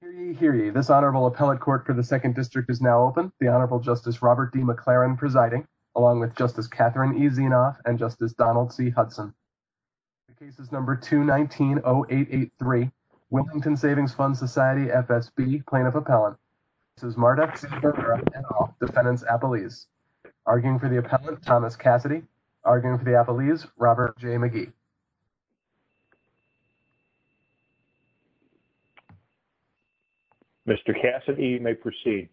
Hear ye, hear ye. This Honorable Appellate Court for the 2nd District is now open. The Honorable Justice Robert D. McLaren presiding, along with Justice Catherine E. Zinoff and Justice Donald C. Hudson. Cases number 219-0883, Wilmington Savings Fund Society, FSB, Plaintiff Appellant. This is Marduk C. Barrera, N.O., Defendants Appellees. Arguing for the Appellant, Thomas Cassidy. Arguing for the Appellees, Robert J. McGee. Mr. Cassidy, you may proceed.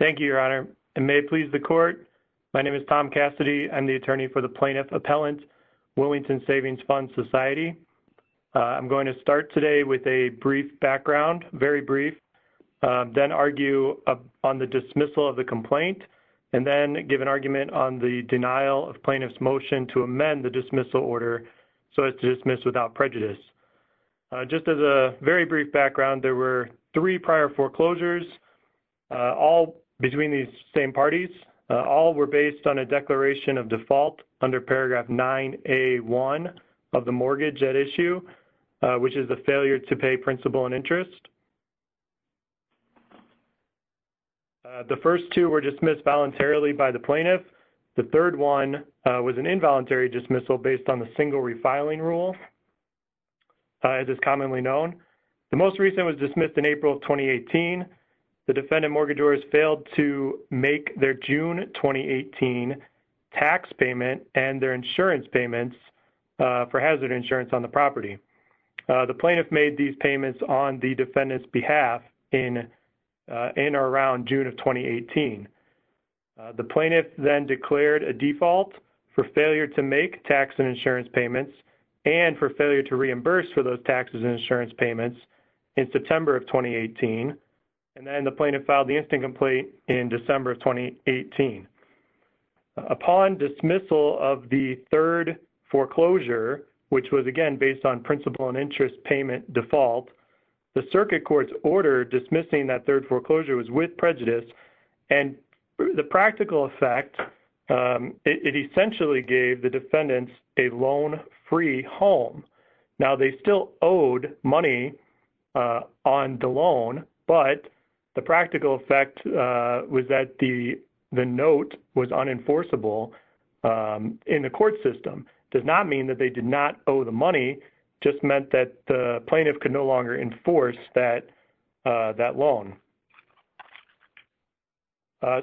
Thank you, Your Honor. And may it please the Court, my name is Tom Cassidy. I'm the Attorney for the Plaintiff Appellant, Wilmington Savings Fund Society. I'm going to start today with a brief background, very brief, then argue on the dismissal of the complaint, and then give an denial of plaintiff's motion to amend the dismissal order so as to dismiss without prejudice. Just as a very brief background, there were three prior foreclosures, all between these same parties. All were based on a declaration of default under paragraph 9A1 of the mortgage at issue, which is a failure to pay principal and interest. The first two were dismissed voluntarily by the plaintiff. The third one was an involuntary dismissal based on the single refiling rule, as is commonly known. The most recent was dismissed in April of 2018. The defendant mortgagors failed to make their June 2018 tax payment and their insurance payments for hazard insurance on the property. The plaintiff made these payments on the defendant's behalf in or around June of 2018. The plaintiff then declared a default for failure to make tax and insurance payments and for failure to reimburse for those taxes and insurance payments in September of 2018. And then the plaintiff filed the instant complaint in December of 2018. Upon dismissal of the third foreclosure, which was, again, based on principal and interest payment default, the circuit court's order dismissing that third foreclosure was with prejudice. And the practical effect, it essentially gave the defendants a loan-free home. Now, they still owed money on the loan, but the practical effect was that the note was unenforceable in the court system. It does not mean that they did not owe the money, just meant that the plaintiff could no longer enforce that loan.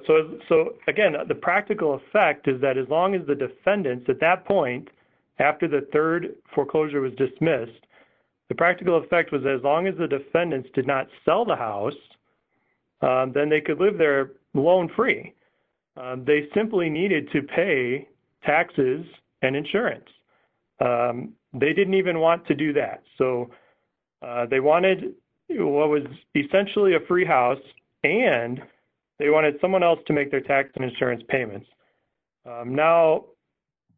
So, again, the practical effect is that as long as the defendants at that point, after the third foreclosure was dismissed, the practical effect was as long as the defendants did not sell the house, then they could live there loan-free. They simply needed to pay taxes and insurance. They didn't even want to do that. So, they wanted what was essentially a free house and they wanted someone else to make their tax and insurance payments. Now,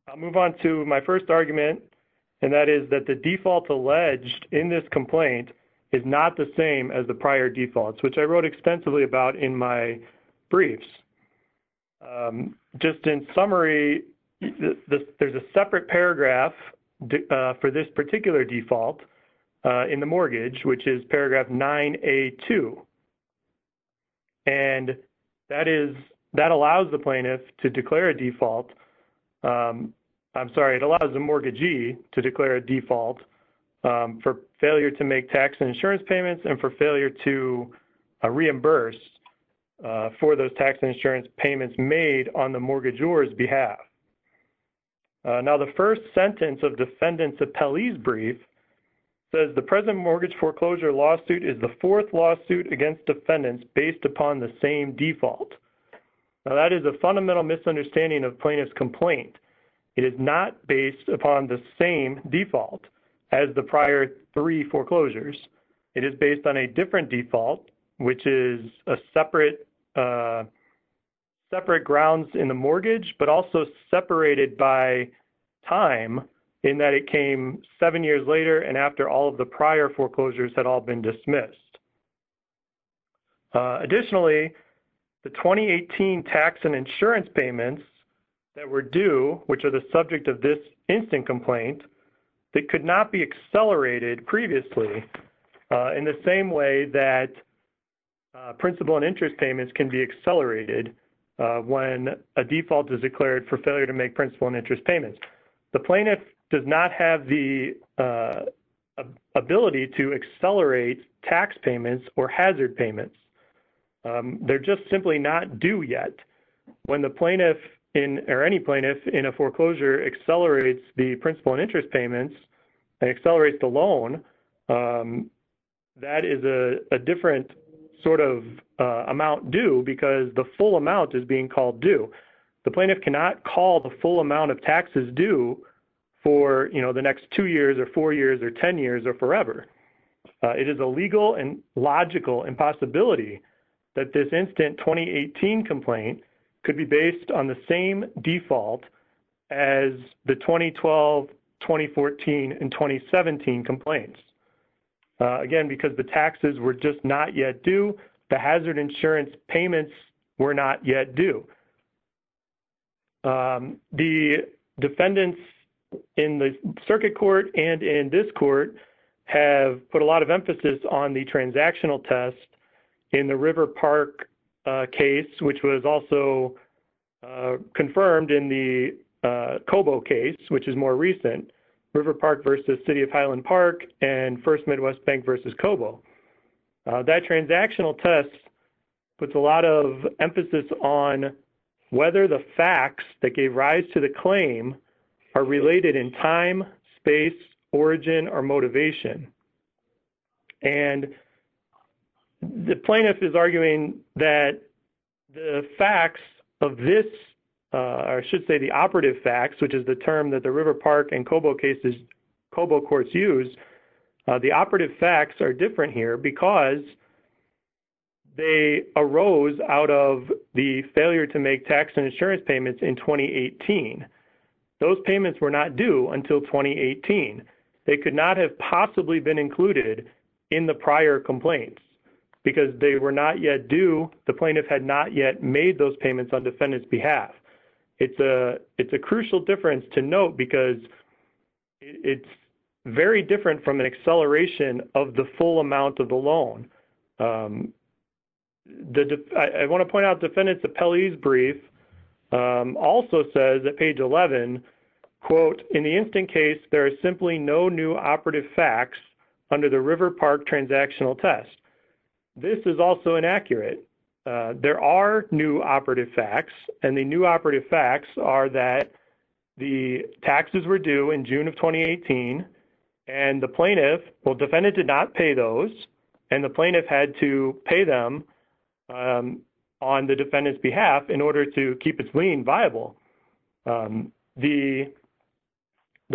I'll move on to my first argument, and that is that the default alleged in this complaint is not the same as the prior defaults, which I wrote extensively about in my briefs. Just in summary, there's a separate paragraph for this particular default in the mortgage, which is paragraph 9A2. And that is, that allows the plaintiff to declare a default. I'm sorry, it allows the mortgagee to declare a default for failure to make tax and insurance payments and for failure to reimburse for those tax and insurance payments made on the mortgagor's behalf. Now, the first sentence of defendant's appellee's brief says, the present mortgage foreclosure lawsuit is the fourth lawsuit against defendants based upon the same default. Now, that is a fundamental misunderstanding of plaintiff's complaint. It is not based upon the same default as the prior three foreclosures. It is based on a different default, which is separate grounds in the mortgage, but also separated by time in that it came seven years later and after all of the prior foreclosures had all been dismissed. Additionally, the 2018 tax and insurance payments that were due, which are the subject of this instant complaint, they could not be accelerated previously in the same way that principal and interest payments can be accelerated when a default is declared for failure to make principal and interest payments. The plaintiff does not have the ability to accelerate tax payments or hazard payments. They're just simply not due yet. When the plaintiff or any plaintiff in a foreclosure accelerates the principal and interest payments and accelerates the loan, that is a different sort of amount due because the full amount is being called due. The plaintiff cannot call the full amount of taxes due for, you know, the next two years or four years or ten years or forever. It is a legal and logical impossibility that this instant 2018 complaint could be based on the same default as the 2012, 2014, and 2017 complaints. Again, because the the defendants in the circuit court and in this court have put a lot of emphasis on the transactional test in the River Park case, which was also confirmed in the Cobo case, which is more recent. River Park versus City of Highland Park and First Midwest Bank versus Cobo. That transactional test puts a lot of emphasis on whether the facts that gave rise to the claim are related in time, space, origin, or motivation. And the plaintiff is arguing that the facts of this, or I should say the operative facts, which is the term that the River Park and Cobo cases, Cobo courts use, the operative facts are different here because they arose out of the failure to make tax and insurance payments in 2018. Those payments were not due until 2018. They could not have possibly been included in the prior complaints because they were not yet due, the plaintiff had not yet made those payments on defendant's behalf. It's a crucial difference to note because it's very different from an acceleration of the full amount of the loan. I want to point out defendant's appellee's brief also says at page 11, quote, in the instant case there is simply no new operative facts under the River Park transactional test. This is also inaccurate. There are new operative facts and the new operative facts are that the taxes were due in June of 2018 and the plaintiff, well, defendant did not pay those, and the plaintiff had to pay them on the defendant's behalf in order to keep its lien viable. The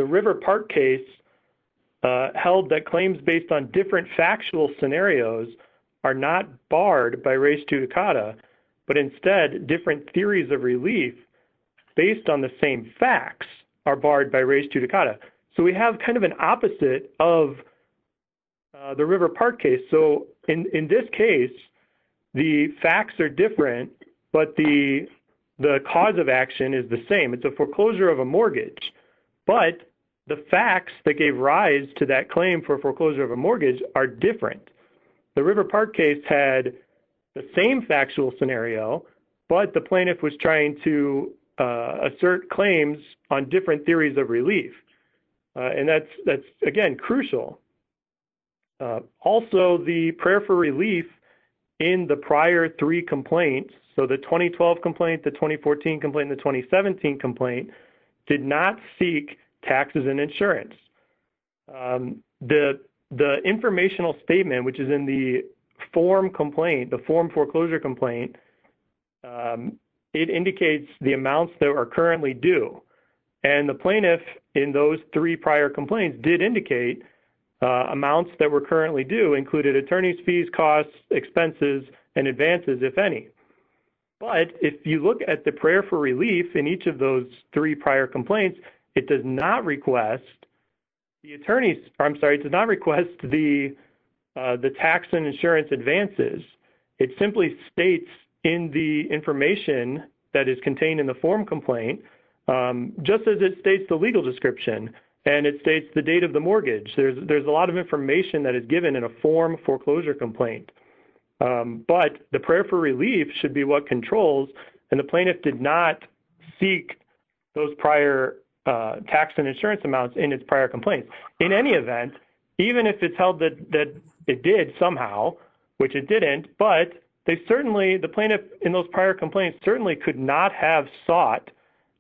River Park case held that claims based on different factual scenarios are not barred by theories of relief based on the same facts are barred by Rage 2 Dukata. We have kind of an opposite of the River Park case. In this case, the facts are different, but the cause of action is the same. It's a foreclosure of a mortgage, but the facts that gave rise to that claim for foreclosure of a mortgage are different. The River Park case had the same factual scenario, but the plaintiff was trying to assert claims on different theories of relief, and that's again crucial. Also, the prayer for relief in the prior three complaints, so the 2012 complaint, the 2014 complaint, and the 2017 complaint did not seek taxes and insurance. The informational statement, which is in the form complaint, the form foreclosure complaint, it indicates the amounts that are currently due, and the plaintiff in those three prior complaints did indicate amounts that were currently due included attorney's fees, costs, expenses, and advances, if any. But if you look at the prayer for relief in each of those three prior complaints, it does not request the tax and insurance advances. It simply states in the information that is contained in the form complaint, just as it states the legal description, and it states the date of the mortgage. There's a lot of information that is given in a form foreclosure complaint, but the prayer for relief should be what controls, and the plaintiff did not seek those prior tax and insurance amounts in its prior complaints. In any event, even if it's held that it did somehow, which it didn't, but they certainly, the plaintiff in those prior complaints certainly could not have sought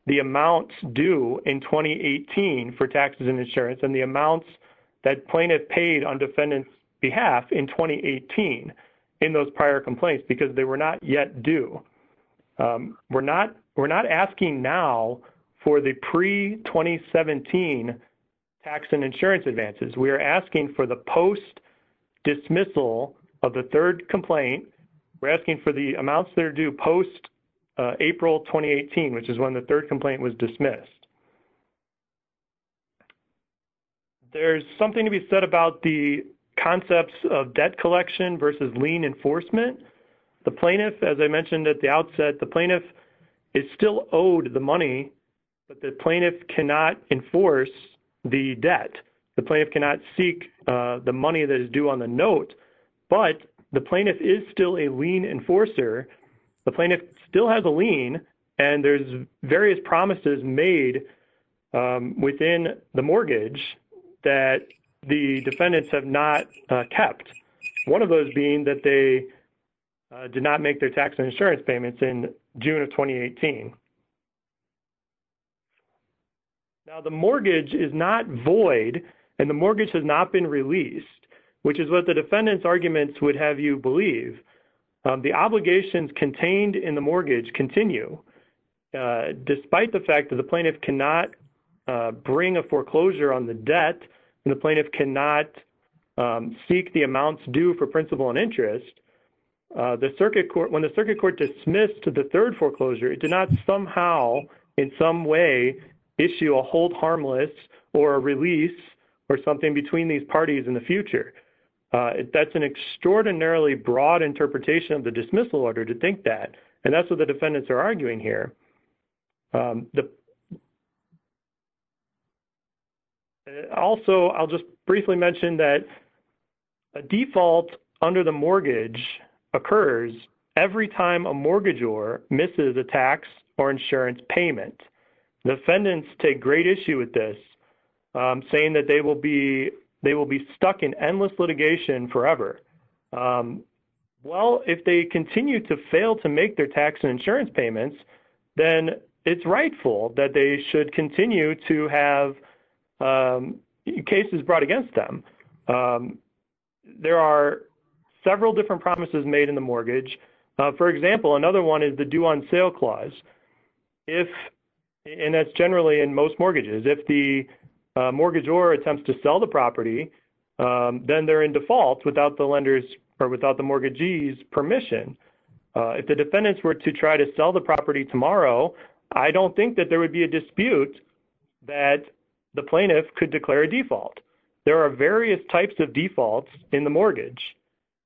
the amounts due in 2018 for taxes and insurance, and the amounts that plaintiff paid on defendant's behalf in 2018 in those prior complaints, because they were not yet due. We're not asking now for the pre-2017 tax and insurance advances. We are asking for the post-dismissal of the third complaint. We're asking for the amounts that are due post-April 2018, which is when the third complaint was dismissed. There's something to The plaintiff, as I mentioned at the outset, the plaintiff is still owed the money, but the plaintiff cannot enforce the debt. The plaintiff cannot seek the money that is due on the note, but the plaintiff is still a lien enforcer. The plaintiff still has a lien, and there's various promises made within the mortgage that the defendants have not kept, one of those being that they did not make their tax and insurance payments in June of 2018. Now, the mortgage is not void, and the mortgage has not been released, which is what the defendant's arguments would have you believe. The obligations contained in the mortgage continue, despite the fact that the plaintiff cannot bring a foreclosure on the debt, and the plaintiff cannot seek the amounts due for principal and interest, when the circuit court dismissed the third foreclosure, it did not somehow, in some way, issue a hold harmless or a release or something between these parties in the future. That's an extraordinarily broad interpretation of the dismissal order to think that, and that's what the defendants are arguing here. Also, I'll just briefly mention that a default under the mortgage occurs every time a mortgagor misses a tax or insurance payment. Defendants take great issue with this, saying that they will be stuck in endless litigation forever. Well, if they continue to fail to make their tax and insurance payments, then it's rightful that they should continue to have cases brought against them. There are several different promises made in the mortgage. For example, another one is the due-on-sale clause, and that's generally in most mortgages. If the mortgagor attempts to sell the property, then they're in default without the mortgagee's permission. If the defendants were to try to sell the property tomorrow, I don't think that there would be a dispute that the plaintiff could declare a default. There are various types of defaults in the mortgage.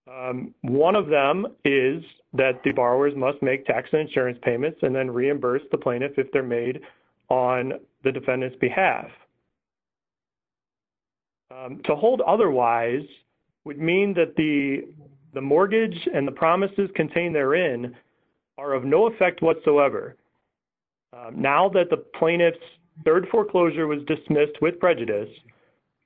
One of them is that the borrowers must make tax and insurance payments and then reimburse the plaintiff if they're made on the defendant's behalf. To hold otherwise would mean that the mortgage and the promises contained therein are of no effect whatsoever. Now that the plaintiff's third foreclosure was dismissed with prejudice,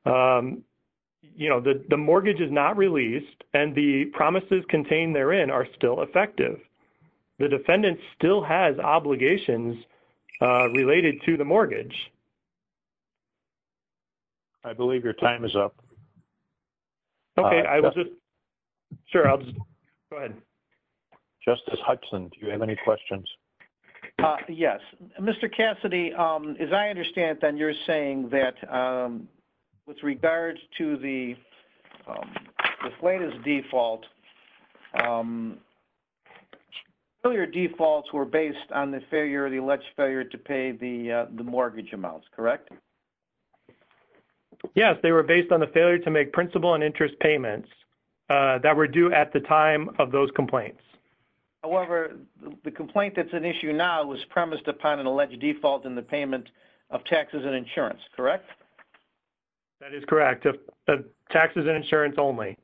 you know, the mortgage is not released and the promises contained therein are still effective. The defendant still has obligations related to the mortgage. I believe your time is up. Okay, I was just, sure, I'll just, go ahead. Justice Hudson, do you have any questions? Yes. Mr. Cassidy, as I understand it then, you're saying that with regards to the plaintiff's default, earlier defaults were based on the alleged failure to pay the mortgage amounts, correct? Yes, they were based on the failure to make principal and interest payments that were due at the time of those complaints. However, the complaint that's an issue now was premised upon an alleged default in the payment of taxes and insurance, correct? That is correct. Taxes and insurance only.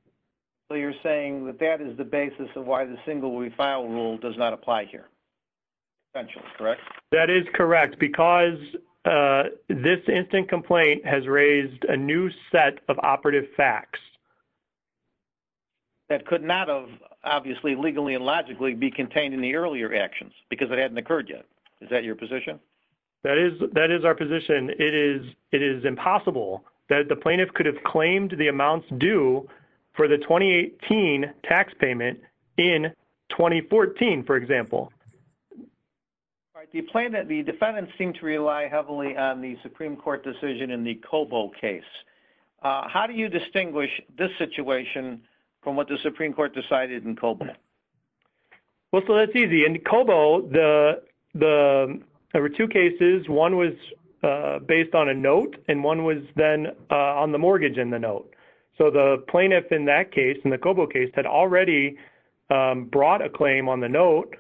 So you're saying that that is the basis of why the single refile rule does not apply here? Potentially, correct? That is correct because this instant complaint has raised a new set of operative facts. That could not have, obviously, legally and logically, be contained in the earlier actions because it hadn't occurred yet. Is that your position? That is our position. It is impossible that the plaintiff could have claimed the amounts due for the 2018 tax payment in 2014, for example. The plaintiff, the defendants, seem to rely heavily on the Supreme Court decision in the Cobo case. How do you distinguish this situation from what the Supreme Court decided in Cobo? Well, so that's easy. In Cobo, there were two cases. One was based on a note and one was then on the mortgage in the note. So the plaintiff in that case, in the Cobo case, had already brought a claim on the note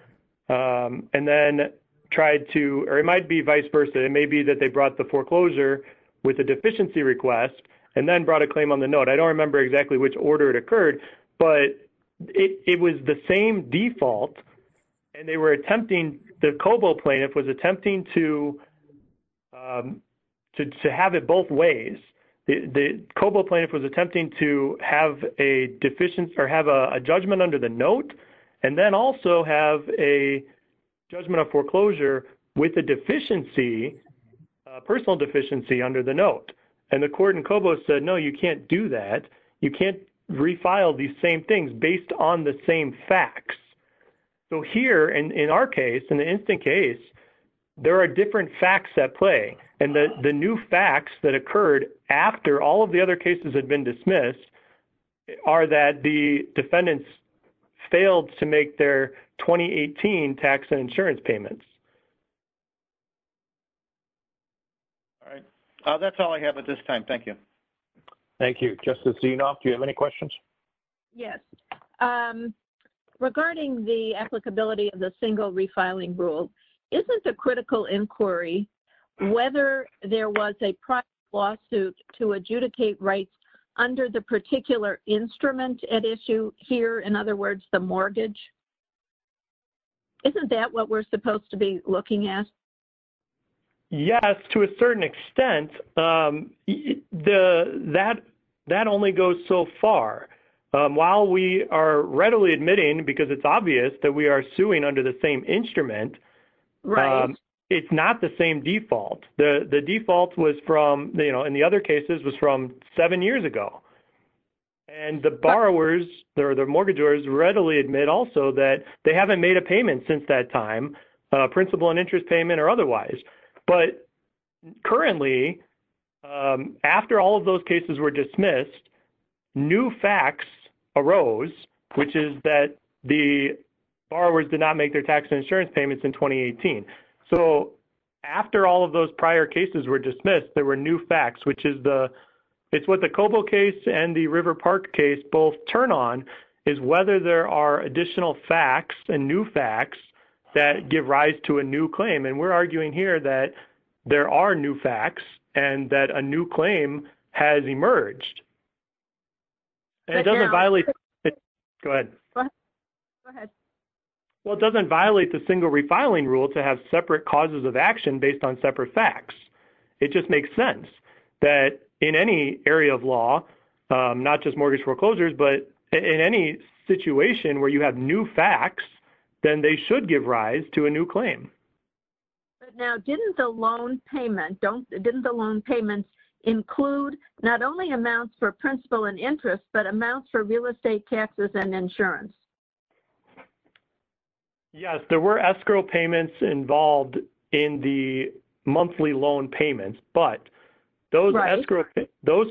and then tried to—or it might be vice versa. It may be that they brought the foreclosure with a deficiency request and then brought a claim on the note. I don't remember exactly which order it occurred, but it was the same default and they were attempting—the Cobo plaintiff was attempting to have it both ways. The Cobo plaintiff was attempting to have a judgment under the note and then also have a judgment of foreclosure with a deficiency, personal deficiency, under the note. And the court in Cobo said, no, you can't do that. You can't refile these same things based on the same facts. So here, in our case, in the instant case, there are different facts at play. And the new facts that occurred after all of the other cases had been dismissed are that the defendants failed to make their 2018 tax and insurance payments. All right. That's all I have at this time. Thank you. Thank you. Justice Zinoff, do you have any questions? Yes. Regarding the applicability of the single refiling rule, isn't the critical inquiry whether there was a private lawsuit to adjudicate rights under the particular instrument at issue here? In other words, the mortgage? Isn't that what we're supposed to be looking at? Yes, to a certain extent. That only goes so far. While we are readily admitting, because it's obvious that we are suing under the same instrument, it's not the same default. The default in the other cases was from seven years ago. And the borrowers or the mortgagors readily admit also that they haven't made a payment since that time, principal and interest payment or otherwise. But currently, after all of those cases were dismissed, new facts arose, which is that the borrowers did not make their tax and insurance payments in 2018. So after all of those prior cases were dismissed, there were new facts, which is what the Cobo case and the River Park case both turn on, is whether there are additional facts and new facts that give rise to a new claim. And we're arguing here that there are new facts and that a new claim has separate causes of action based on separate facts. It just makes sense that in any area of law, not just mortgage foreclosures, but in any situation where you have new facts, then they should give rise to a new claim. But now, didn't the loan payments include not only amounts for principal and interest, but amounts for real estate taxes and insurance? Yes, there were escrow payments involved in the monthly loan payments, but those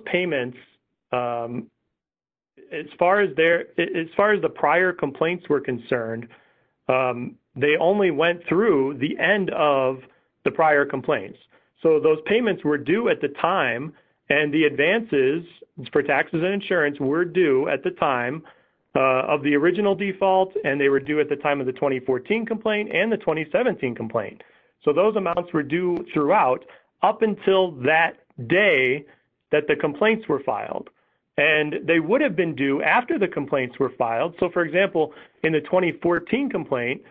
payments, as far as the prior complaints were concerned, they only went through the end of the prior complaints. So those payments were due at the time and the advances for taxes and insurance were due at the time of the original default, and they were due at the time of the 2014 complaint and the 2017 complaint. So those amounts were due throughout up until that day that the complaints were filed. And they would have been due after the complaints were filed. So for example, in the 2014 complaint,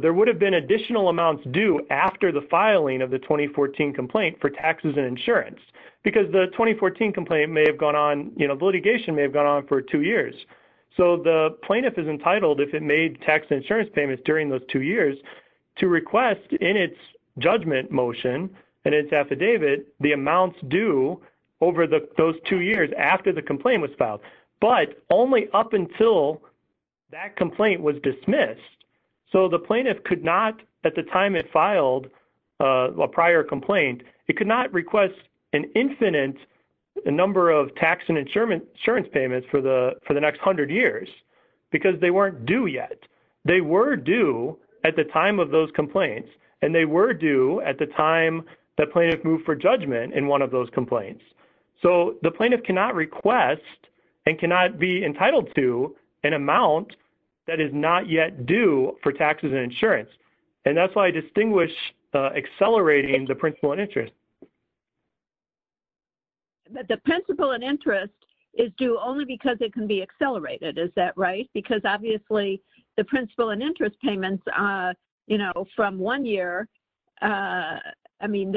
there would have been additional amounts due after the filing of the two years. So the plaintiff is entitled, if it made tax and insurance payments during those two years, to request in its judgment motion and its affidavit the amounts due over those two years after the complaint was filed, but only up until that complaint was dismissed. So the plaintiff could not, at the time it filed a prior complaint, it could not request an infinite number of tax insurance payments for the next hundred years because they weren't due yet. They were due at the time of those complaints, and they were due at the time the plaintiff moved for judgment in one of those complaints. So the plaintiff cannot request and cannot be entitled to an amount that is not yet due for taxes and insurance. And that's why I distinguish accelerating the principal and interest. But the principal and interest is due only because it can be accelerated. Is that right? Because obviously the principal and interest payments, you know, from one year, I mean,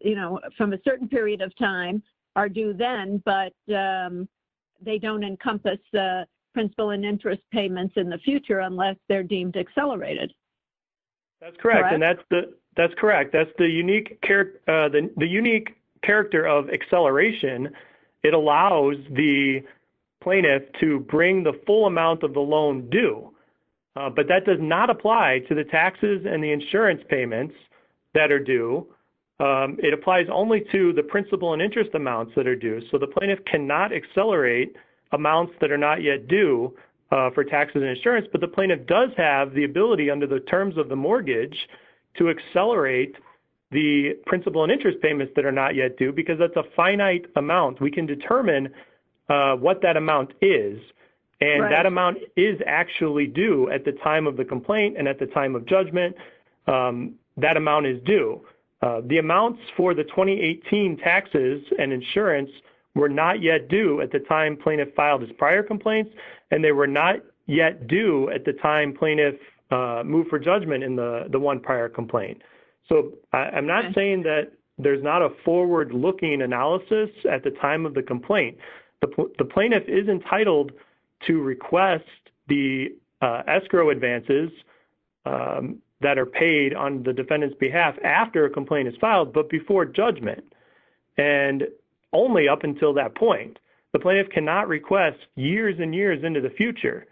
you know, from a certain period of time are due then, but they don't encompass the principal and interest payments in the future unless they're deemed accelerated. That's correct. And that's the, that's correct. That's the unique character, the unique character of acceleration. It allows the plaintiff to bring the full amount of the loan due, but that does not apply to the taxes and the insurance payments that are due. It applies only to the principal and interest amounts that are due. So the plaintiff cannot accelerate amounts that are not yet due for taxes and insurance, but the plaintiff does have the terms of the mortgage to accelerate the principal and interest payments that are not yet due, because that's a finite amount. We can determine what that amount is. And that amount is actually due at the time of the complaint. And at the time of judgment, that amount is due. The amounts for the 2018 taxes and insurance were not yet due at the time plaintiff filed his prior complaints. And they were not yet due at the time plaintiff moved for judgment in the one prior complaint. So I'm not saying that there's not a forward-looking analysis at the time of the complaint. The plaintiff is entitled to request the escrow advances that are paid on the defendant's behalf after a complaint is filed, but before judgment, and only up until that point. The future.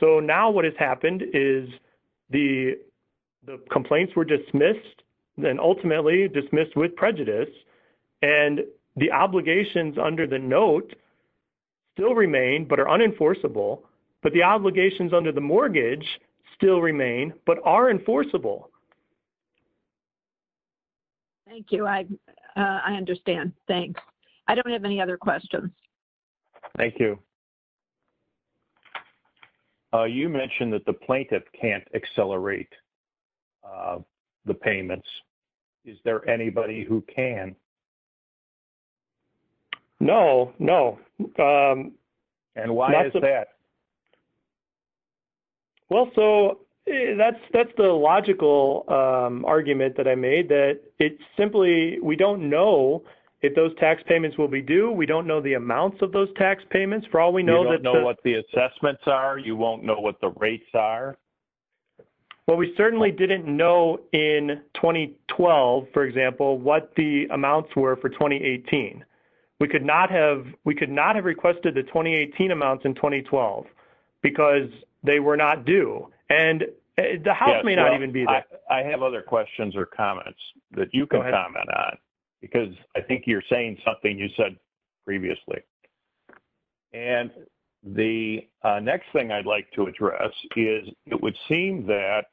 So now what has happened is the complaints were dismissed, then ultimately dismissed with prejudice. And the obligations under the note still remain, but are unenforceable. But the obligations under the mortgage still remain, but are enforceable. Thank you. I understand. Thanks. I don't have any other questions. Thank you. You mentioned that the plaintiff can't accelerate the payments. Is there anybody who can? No, no. And why is that? Well, so that's the logical argument that I made, that it's simply we don't know if those amounts of those tax payments, for all we know. You don't know what the assessments are? You won't know what the rates are? Well, we certainly didn't know in 2012, for example, what the amounts were for 2018. We could not have requested the 2018 amounts in 2012 because they were not due. And the house may not even be there. I have other questions or comments that you can comment on, because I think you're saying something you said previously. And the next thing I'd like to address is, it would seem that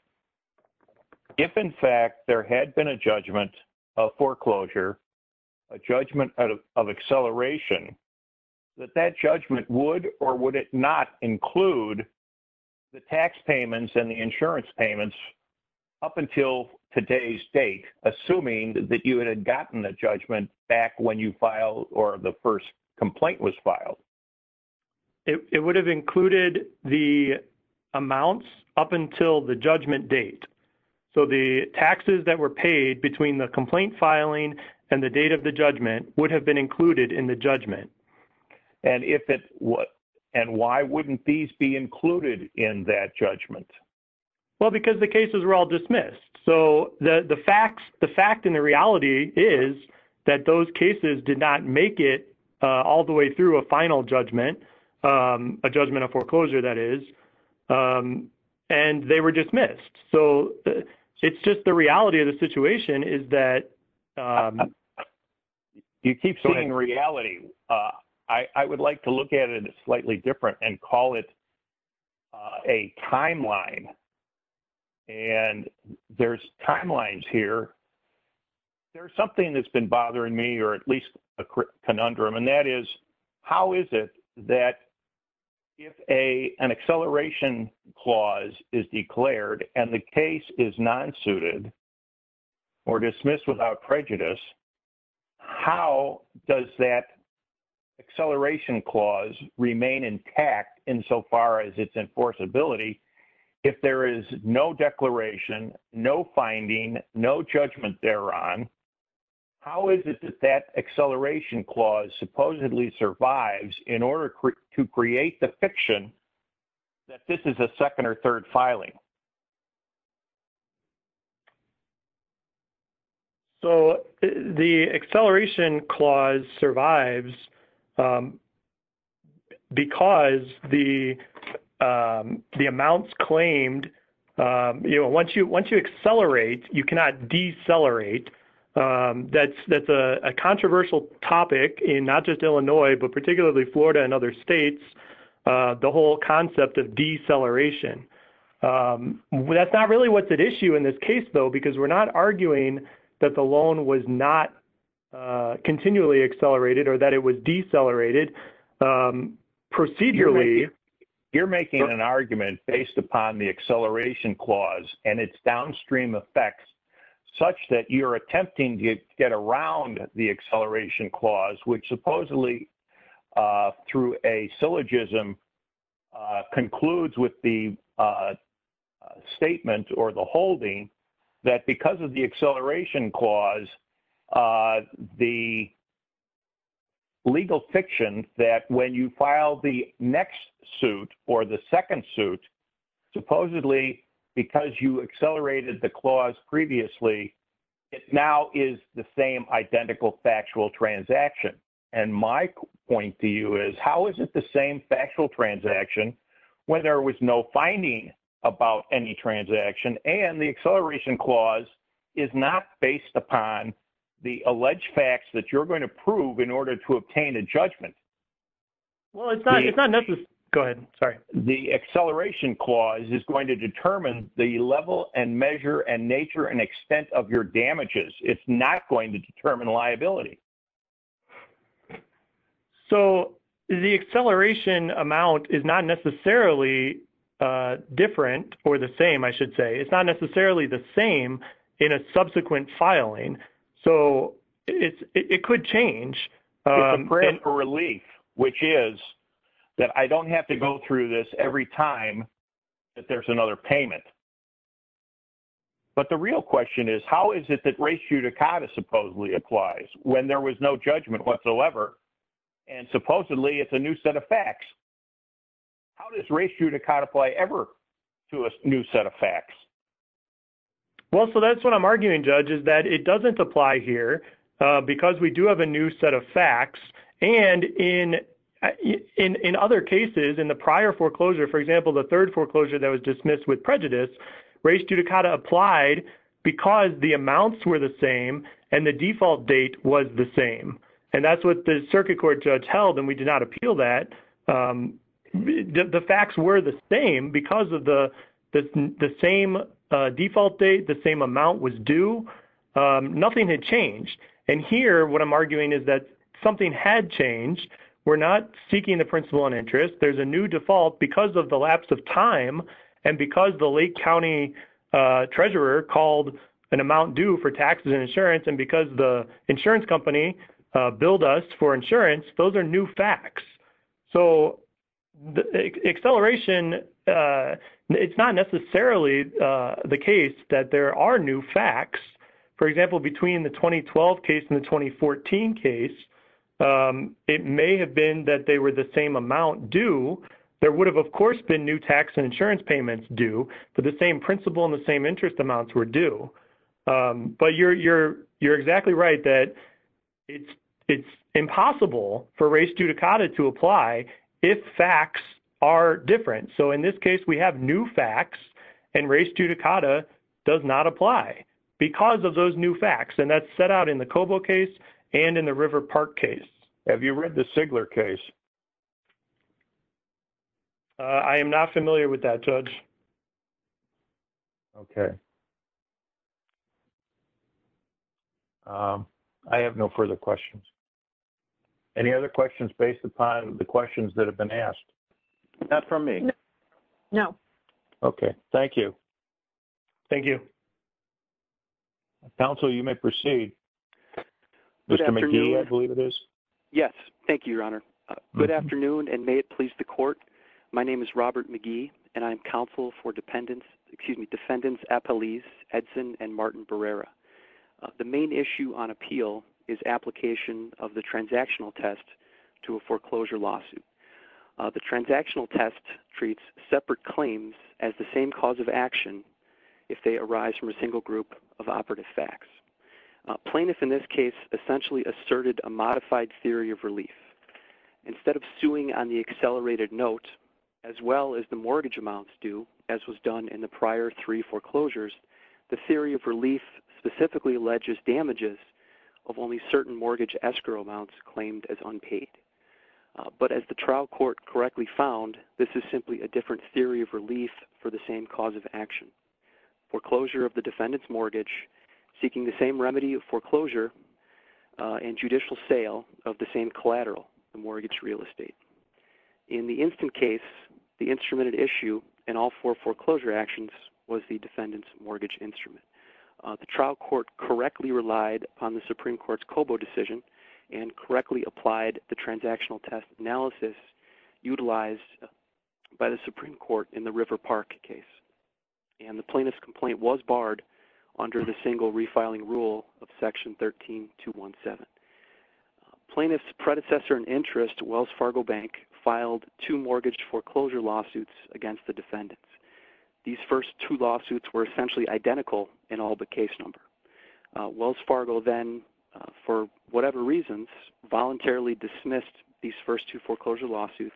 if, in fact, there had been a judgment of foreclosure, a judgment of acceleration, that that judgment would or would it not include the tax payments and the insurance payments up until today's date, assuming that you had gotten the judgment back when you filed or the first complaint was filed? It would have included the amounts up until the judgment date. So the taxes that were paid between the complaint filing and the date of the judgment would have been included in the judgment. And why wouldn't these be included in that judgment? Well, because the cases were all dismissed. So the fact and the reality is that those cases did not make it all the way through a final judgment, a judgment of foreclosure, that is, and they were dismissed. So it's just the reality of the situation is that you keep seeing reality. I would like to look at it slightly different and call it a timeline. And there's timelines here. There's something that's been bothering me, or at least a conundrum, and that is, how is it that if an acceleration clause is declared and the case is non-suited or dismissed without prejudice, how does that acceleration clause remain intact insofar as its enforceability if there is no declaration, no finding, no judgment thereon? How is it that that acceleration clause supposedly survives in order to create the fiction that this is a second or third? So the acceleration clause survives because the amounts claimed, once you accelerate, you cannot decelerate. That's a controversial topic in not just Illinois, but particularly Florida and other states, the whole concept of deceleration. Well, that's not really what's at issue in this case, though, because we're not arguing that the loan was not continually accelerated or that it was decelerated procedurally. You're making an argument based upon the acceleration clause and its downstream effects such that you're attempting to get around the acceleration clause, which supposedly, through a syllogism, concludes with the statement or the holding that because of the acceleration clause, the legal fiction that when you file the next suit or the second suit, supposedly because you accelerated the clause previously, it now is the same identical factual transaction. And my point to you is, how is it the same factual transaction when there was no finding about any transaction and the acceleration clause is not based upon the alleged facts that you're going to prove in order to obtain a judgment? Well, it's not necessary. Go ahead. Sorry. The acceleration clause is going to determine the level and measure and nature and extent of your damages. It's not going to determine liability. So, the acceleration amount is not necessarily different or the same, I should say. It's not necessarily the same in a subsequent filing. So, it could change. It's a breath of relief, which is that I don't have to go through this every time that there's another payment. But the real question is, how is it that res judicata supposedly applies when there was no judgment whatsoever and supposedly it's a new set of facts? How does res judicata apply ever to a new set of facts? Well, so that's what I'm arguing, Judge, is that it doesn't apply here because we do have a new set of facts. And in other cases, in the prior foreclosure, for example, the third foreclosure that was dismissed with prejudice, res judicata applied because the amounts were the same and the default date was the same. And that's what the circuit court judge held, and we did not appeal that. The facts were the same because of the same default date, the same amount was due. Nothing had changed. And here, what I'm arguing is that something had changed. We're not seeking the principle on interest. There's a new default because of the lapse of time and because the Lake County treasurer called an amount due for taxes and insurance and because the insurance company billed us for insurance. Those are new facts. So acceleration, it's not necessarily the case that there are new facts. For example, between the 2012 case and the 2014 case, it may have been that they were the same amount due. There would have, of course, been new tax and insurance payments due, but the same principle and the same interest amounts were due. But you're exactly right that it's impossible for res judicata to apply if facts are different. So in this case, we have new facts, and res judicata does not apply because of those new and in the River Park case. Have you read the Sigler case? I am not familiar with that, Judge. Okay. I have no further questions. Any other questions based upon the questions that have been asked? Not from me. No. Okay. Thank you. Thank you. Counsel, you may proceed. Mr. McGee, I believe it is. Yes. Thank you, Your Honor. Good afternoon, and may it please the court. My name is Robert McGee, and I'm counsel for Defendants Appellees Edson and Martin Barrera. The main issue on appeal is application of the transactional test to a foreclosure lawsuit. The transactional test treats separate claims as the same cause of action if they arise from a single group of operative facts. Plaintiff in this case essentially asserted a modified theory of relief. Instead of suing on the accelerated note, as well as the mortgage amounts due, as was done in the prior three foreclosures, the theory of relief specifically alleges damages of only certain mortgage escrow amounts claimed as unpaid. But as the trial court correctly found, this is simply a different theory of relief for the same cause of action, foreclosure of the defendant's mortgage, seeking the same remedy of foreclosure and judicial sale of the same collateral, the mortgage real estate. In the instant case, the instrumented issue in all four foreclosure actions was the defendant's mortgage instrument. The trial court correctly relied on the Supreme Court's COBO decision and correctly applied the by the Supreme Court in the River Park case. And the plaintiff's complaint was barred under the single refiling rule of section 13217. Plaintiff's predecessor in interest, Wells Fargo Bank, filed two mortgage foreclosure lawsuits against the defendants. These first two lawsuits were essentially identical in all but case number. Wells Fargo then, for whatever reasons, voluntarily dismissed these first two foreclosure lawsuits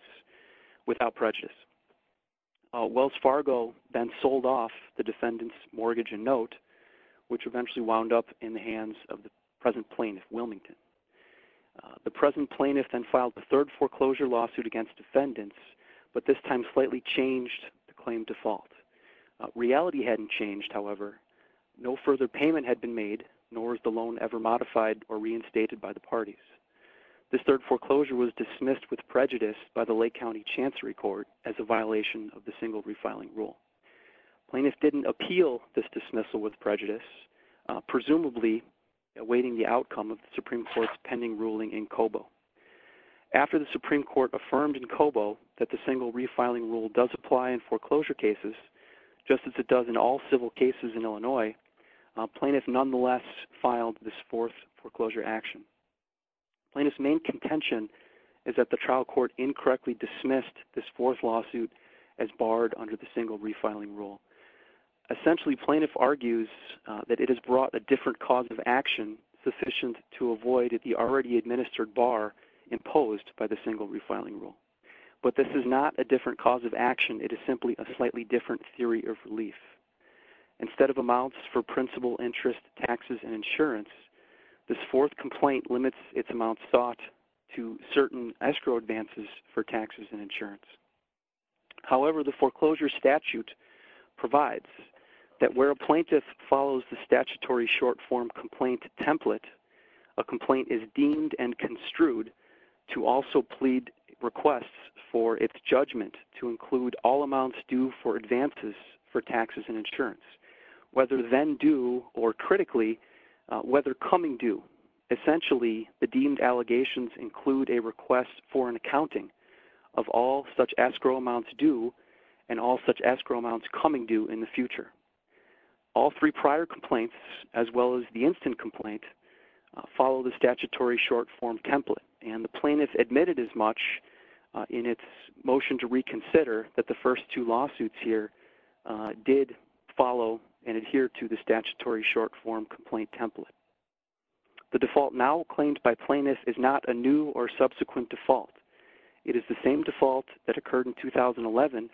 without prejudice. Wells Fargo then sold off the defendant's mortgage and note, which eventually wound up in the hands of the present plaintiff, Wilmington. The present plaintiff then filed the third foreclosure lawsuit against defendants, but this time slightly changed the claim default. Reality hadn't changed, however. No further payment had been made, nor is the loan ever modified or reinstated by the parties. This third foreclosure was dismissed with prejudice by the Lake County Chancery Court as a violation of the single refiling rule. Plaintiff didn't appeal this dismissal with prejudice, presumably awaiting the outcome of the Supreme Court's pending ruling in COBO. After the Supreme Court affirmed in COBO that the single refiling rule does apply in foreclosure cases, just as it does in all civil cases in Illinois, plaintiff nonetheless filed this fourth foreclosure action. Plaintiff's main contention is that the trial court incorrectly dismissed this fourth lawsuit as barred under the single refiling rule. Essentially, plaintiff argues that it has brought a different cause of action sufficient to avoid the already administered bar imposed by the single refiling rule, but this is not a different cause of action. It is simply a slightly different theory of relief. Instead of amounts for principal interest taxes and insurance, this fourth complaint limits its amounts sought to certain escrow advances for taxes and insurance. However, the foreclosure statute provides that where a plaintiff follows the statutory short form complaint template, a complaint is deemed and construed to also plead requests for its judgment to include all amounts due for advances for taxes and insurance, whether then due or critically whether coming due. Essentially, the deemed allegations include a request for an accounting of all such escrow amounts due and all such escrow amounts coming due in the future. All three prior complaints, as well as the instant complaint, follow the statutory short form template, and the plaintiff admitted as much in its motion to reconsider that the first two lawsuits here did follow and adhere to the statutory short form complaint template. The default now claimed by plaintiffs is not a new or subsequent default. It is the same default that occurred in 2011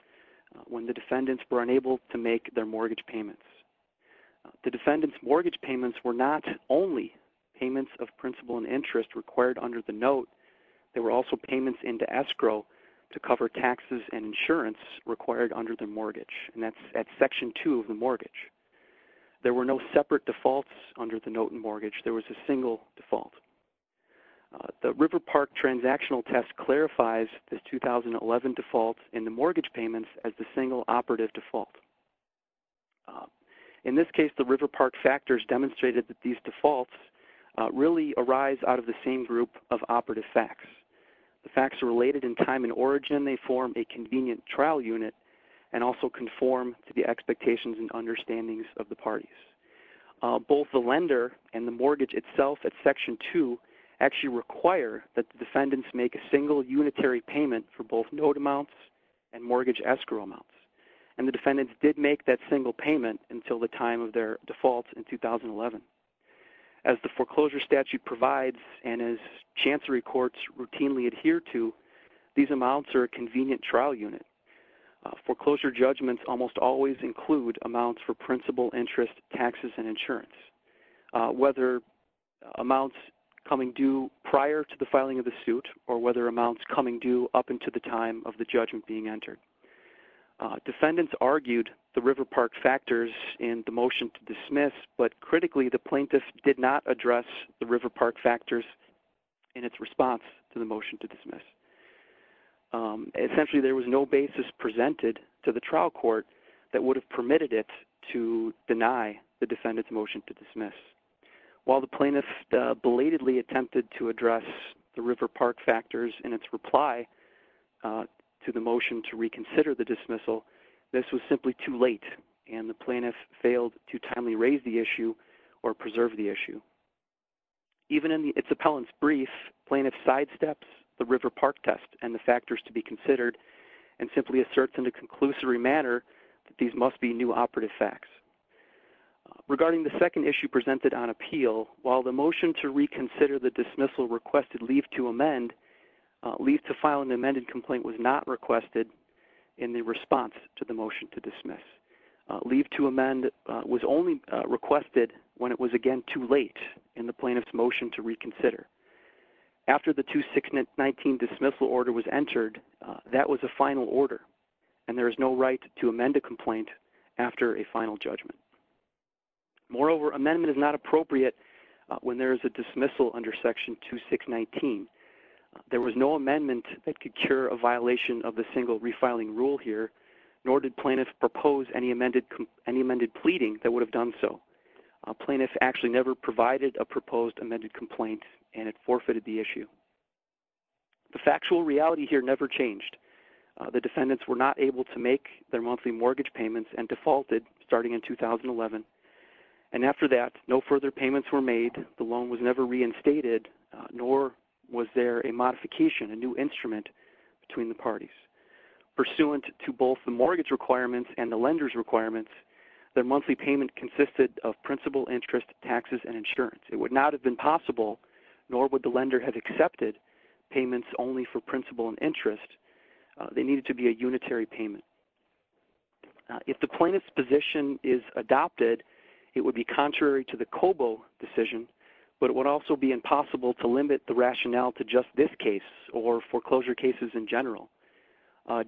when the defendants were unable to make their mortgage payments. The defendant's mortgage payments were not only payments of principal and interest required under the note, they were also payments into escrow to cover taxes and insurance required under the mortgage, and that's at section two of the mortgage. There were no separate defaults under the note and mortgage. There was a single default. The River Park transactional test clarifies the 2011 defaults in the mortgage payments as the single operative default. In this case, the River Park factors demonstrated that these defaults really arise out of the same group of operative facts. The facts are related in time and origin. They form a convenient trial unit and also conform to the expectations and understandings of the parties. Both the lender and the mortgage itself at section two actually require that the defendants make a single unitary payment for both note amounts and mortgage escrow amounts, and the defendants did make that single payment until the time of their defaults in 2011. As the foreclosure statute provides and as chancery courts routinely adhere to, these amounts are a convenient trial unit. Foreclosure judgments almost always include amounts for principal, interest, taxes, and insurance, whether amounts coming due prior to the filing of the suit or whether amounts coming due up into the time of the judgment being entered. Defendants argued the River Park factors in the River Park factors in its response to the motion to dismiss. Essentially, there was no basis presented to the trial court that would have permitted it to deny the defendant's motion to dismiss. While the plaintiff belatedly attempted to address the River Park factors in its reply to the motion to reconsider the dismissal, this was simply too late, and the plaintiff failed to timely raise the issue or preserve the issue. Even in its appellant's brief, plaintiff sidesteps the River Park test and the factors to be considered and simply asserts in a conclusory manner that these must be new operative facts. Regarding the second issue presented on appeal, while the motion to reconsider the dismissal requested leave to amend, leave to file an amended complaint was not requested in the response to the motion to dismiss. Leave to amend was only requested when it was again too late in the plaintiff's motion to reconsider. After the 2619 dismissal order was entered, that was a final order, and there is no right to amend a complaint after a final judgment. Moreover, amendment is not appropriate when there is a dismissal under section 2619. There was no amendment that could cure a violation of the single refiling rule here, nor did plaintiff propose any amended pleading that would have done so. Plaintiff actually provided a proposed amended complaint and it forfeited the issue. The factual reality here never changed. The defendants were not able to make their monthly mortgage payments and defaulted starting in 2011. After that, no further payments were made. The loan was never reinstated, nor was there a modification, a new instrument between the parties. Pursuant to both the mortgage requirements and the lender's requirements, their monthly payment consisted of principal, interest, taxes, and insurance. It would not have been possible, nor would the lender have accepted payments only for principal and interest. They needed to be a unitary payment. If the plaintiff's position is adopted, it would be contrary to the COBO decision, but it would also be impossible to limit the rationale to just this case or foreclosure cases in general.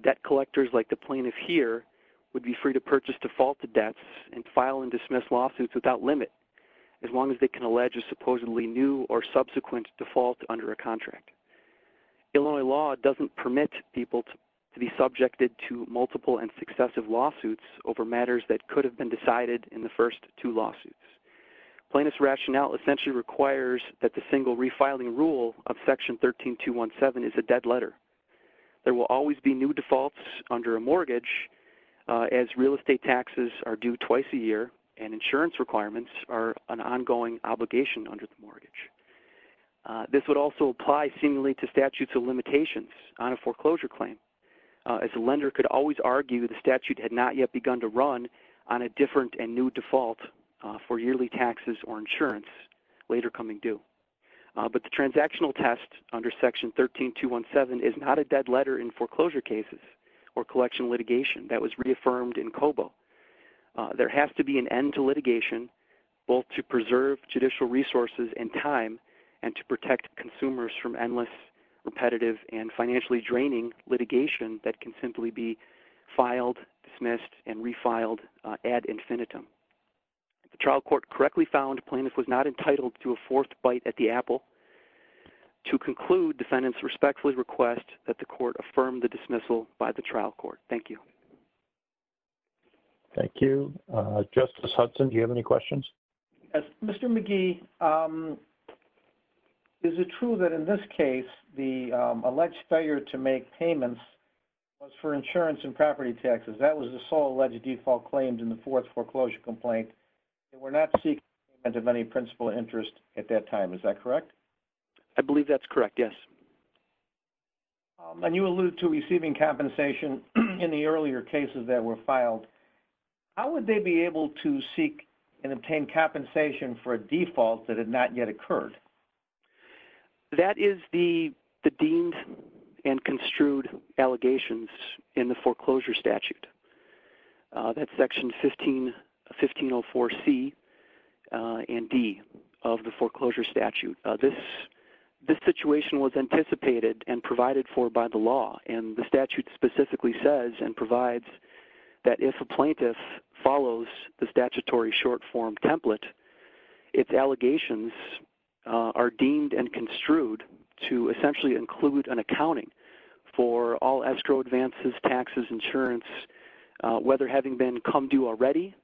Debt collectors like the plaintiff here would be to purchase defaulted debts and file and dismiss lawsuits without limit, as long as they can allege a supposedly new or subsequent default under a contract. Illinois law doesn't permit people to be subjected to multiple and successive lawsuits over matters that could have been decided in the first two lawsuits. Plaintiff's rationale essentially requires that the single refiling rule of Section 13217 is a dead letter. There will always be new defaults under a mortgage, as real estate taxes are due twice a year and insurance requirements are an ongoing obligation under the mortgage. This would also apply seemingly to statutes of limitations on a foreclosure claim, as a lender could always argue the statute had not yet begun to run on a different and new default for yearly taxes or insurance later coming due. But the transactional test under Section 13217 is not a dead letter in foreclosure cases or collection litigation that was reaffirmed in COBO. There has to be an end to litigation, both to preserve judicial resources and time and to protect consumers from endless, repetitive, and financially draining litigation that can simply be filed, dismissed, and refiled ad infinitum. The trial court correctly found plaintiff was not entitled to a fourth bite at the apple. To conclude, defendants respectfully request that the court affirm the dismissal by the trial court. Thank you. Thank you. Justice Hudson, do you have any questions? Mr. McGee, is it true that in this case the alleged failure to make payments was for insurance and property taxes? That was the sole alleged default claimed in the fourth foreclosure complaint. They were not seeking payment of any principal interest at that time, is that correct? I believe that's correct, yes. When you allude to receiving compensation in the earlier cases that were filed, how would they be able to seek and obtain compensation for a default that had not yet been obtained? That's section 1504C and D of the foreclosure statute. This situation was anticipated and provided for by the law. The statute specifically says and provides that if a plaintiff follows the statutory short form template, its allegations are deemed and construed to essentially include an accounting for all escrow advances, taxes, insurance, whether having been come due already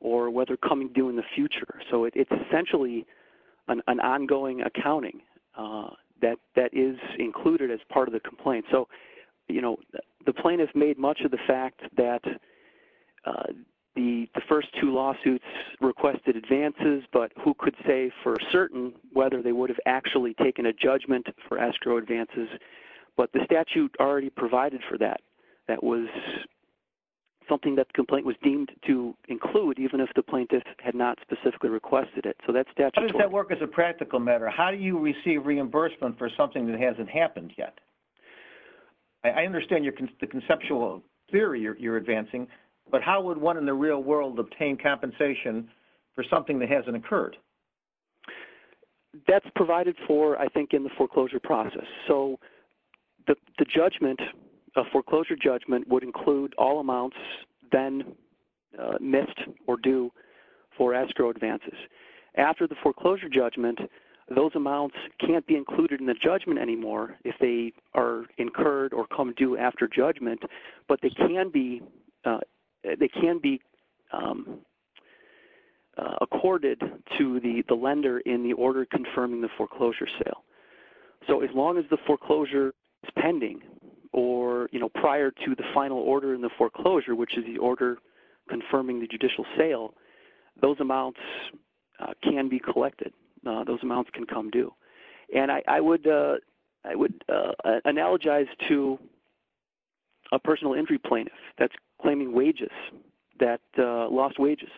or whether coming due in the future. It's essentially an ongoing accounting that is included as part of the complaint. The plaintiff made much of the fact that the first two lawsuits requested advances, but who could say for certain whether they would have actually taken a judgment for escrow advances. The statute already provided for that. That was something that the complaint was deemed to include even if the plaintiff had not specifically requested it. How does that work as a practical matter? How do you receive reimbursement for something that hasn't happened yet? I understand the conceptual theory you're advancing, but how would one in the real world obtain compensation for something that hasn't occurred? That's provided for, I think, in the foreclosure process. The foreclosure judgment would include all amounts then missed or due for escrow advances. After the foreclosure judgment, those amounts can't be included in the judgment anymore if they are incurred or come due after judgment, but they can be accorded to the lender in the order confirming the foreclosure sale. As long as the foreclosure is pending or prior to the final order in the foreclosure, which is the order confirming the judicial sale, those amounts can be collected. Those personal entry plaintiffs claiming wages, lost wages,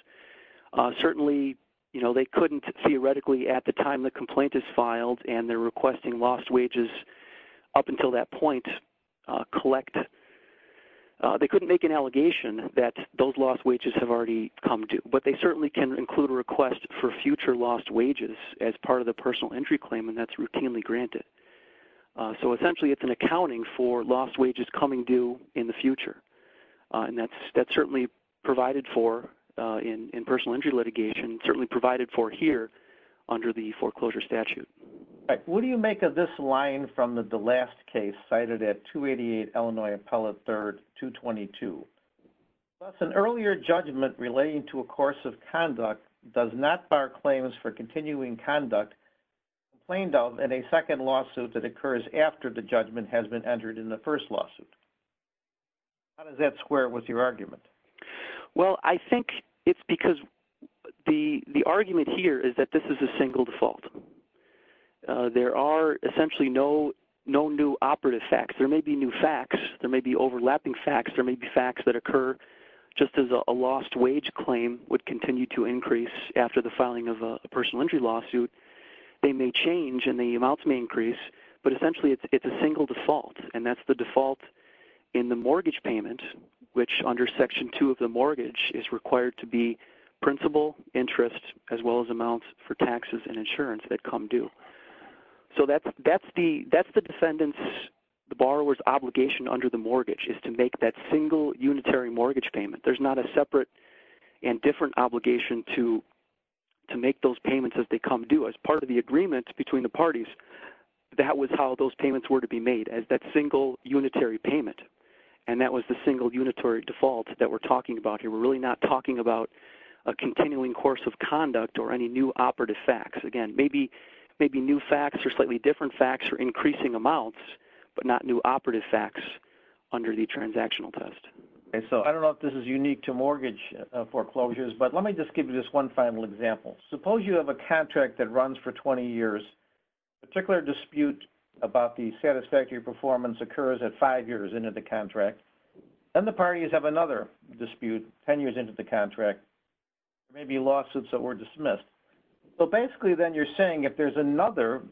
certainly they couldn't theoretically at the time the complaint is filed and they're requesting lost wages up until that point collect. They couldn't make an allegation that those lost wages have already come to, but they certainly can include a request for future lost wages as part of the personal entry claim and that's routinely granted. Essentially, it's an accounting for lost wages coming due in the future and that's certainly provided for in personal entry litigation, certainly provided for here under the foreclosure statute. What do you make of this line from the last case cited at 288 Illinois Appellate 3rd, 222? Thus, an earlier judgment relating to a course of conduct does not bar claims for continuing conduct complained of in a second lawsuit that occurs after the judgment has been entered in the first lawsuit. How does that square with your argument? Well, I think it's because the argument here is that this is a single default. There are essentially no new operative facts. There may be new facts. There may be overlapping facts. There may be facts that occur just as a lost wage claim would continue to increase after the filing of a personal entry lawsuit. They may change and the amounts may increase, but essentially it's a single default and that's the default in the mortgage payment, which under Section 2 of the mortgage is required to be principal interest as well as amounts for taxes and insurance that come due. So, that's the defendant's, the borrower's obligation under the mortgage is to make that single unitary mortgage payment. There's not a separate and different obligation to make those payments as they come due. As part of the agreement between the parties, that was how those payments were to be made as that single unitary payment and that was the single unitary default that we're talking about here. We're really not talking about a continuing course of conduct or any new operative facts. Again, maybe new facts or slightly different facts or increasing amounts, but not new operative facts under the transactional test. Okay, so I don't know if this is unique to mortgage foreclosures, but let me just give you this one final example. Suppose you have a contract that runs for 20 years. A particular dispute about the satisfactory performance occurs at five years into the contract. Then the parties have another dispute 10 years into the contract. There may be lawsuits that were dismissed. So, basically then you're saying if there's another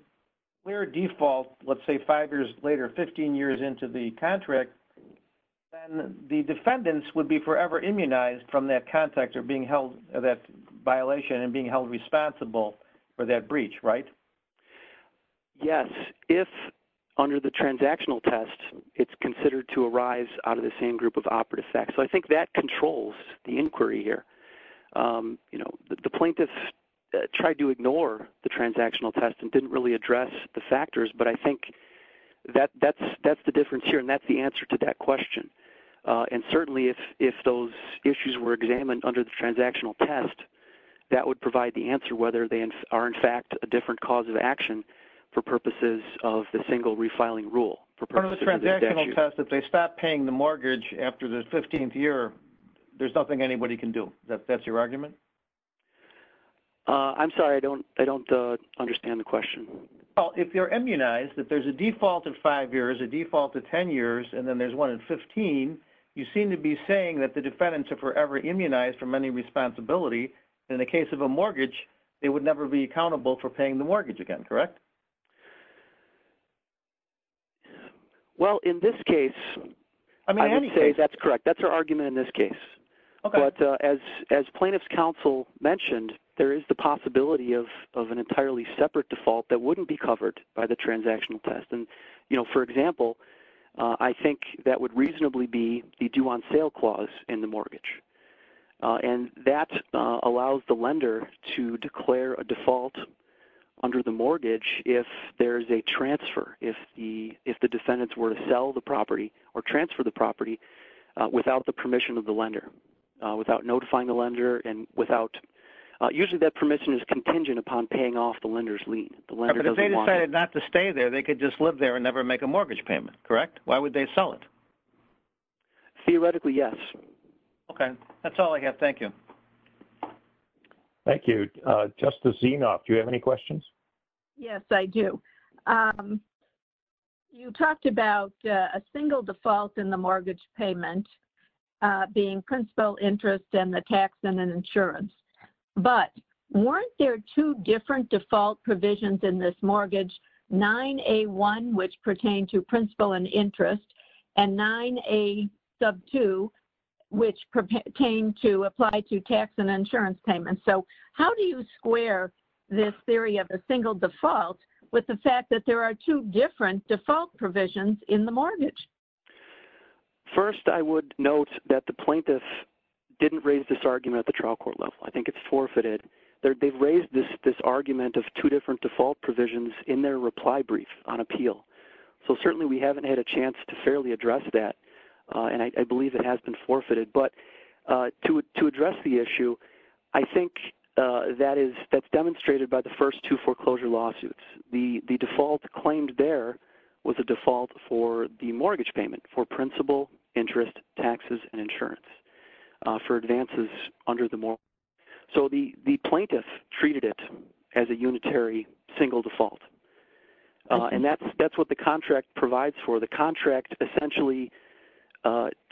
clear default, let's say five years later, 15 years into the contract, then the defendants would be forever immunized from that contact or being held that violation and being held responsible for that breach, right? Yes, if under the transactional test, it's considered to arise out of the same group of operative facts. So, I think that controls the inquiry here. The plaintiffs tried to ignore the transactional test and didn't really address the factors, but I think that's the difference here and that's the answer to that question. And certainly, if those issues were examined under the transactional test, that would provide the answer whether they are, in fact, a different cause of action for purposes of the single refiling rule. Under the transactional test, if they stop paying the mortgage after the 15th year, there's nothing anybody can do. That's your argument? I'm sorry, I don't understand the question. Well, if you're immunized, that there's a default of five years, a default of 10 years, and then there's one in 15, you seem to be saying that the defendants are forever immunized from any responsibility. In the case of a mortgage, they would never be accountable for paying the mortgage again, correct? Well, in this case, I would say that's correct. That's our argument in this case. But as plaintiff's counsel mentioned, there is the possibility of an entirely separate default that wouldn't be covered by the transactional test. And for example, I think that would reasonably be the due on sale clause in the mortgage. And that allows the lender to declare a default under the mortgage if there is a transfer, if the defendants were to sell the without notifying the lender. And usually that permission is contingent upon paying off the lender's lien. But if they decided not to stay there, they could just live there and never make a mortgage payment, correct? Why would they sell it? Theoretically, yes. Okay, that's all I have. Thank you. Thank you. Justice Zinoff, do you have any questions? Yes, I do. You talked about a single default in the mortgage payment being principal interest and the tax and an insurance. But weren't there two different default provisions in this mortgage, 9A1, which pertain to principal and interest, and 9A2, which pertain to apply to tax and insurance payments? So how do you square this theory of a single default with the fact that there are two different default provisions in the mortgage? First, I would note that the plaintiffs didn't raise this argument at the trial court level. I think it's forfeited. They've raised this argument of two different default provisions in their reply brief on appeal. So certainly we haven't had a chance to fairly address that. And I believe it has been forfeited. But to address the issue, I think that's demonstrated by the first two foreclosure lawsuits. The default claimed there was a default for the mortgage payment for principal, interest, taxes, and insurance for advances under the mortgage. So the plaintiff treated it as a unitary single default. And that's what the contract provides for. The contract essentially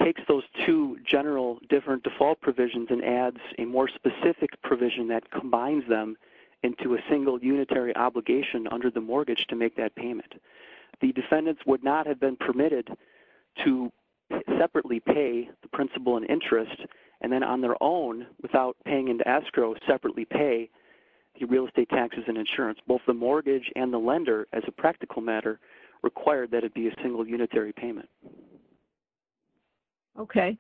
takes those two general different default provisions and adds a more specific provision that combines them into a single unitary obligation under the mortgage to make that payment. The defendants would not have been permitted to separately pay the principal and interest, and then on their own, without paying into escrow, separately pay the real estate taxes and insurance. Both the mortgage and the lender, as a practical matter, required that it be a single unitary payment. Okay.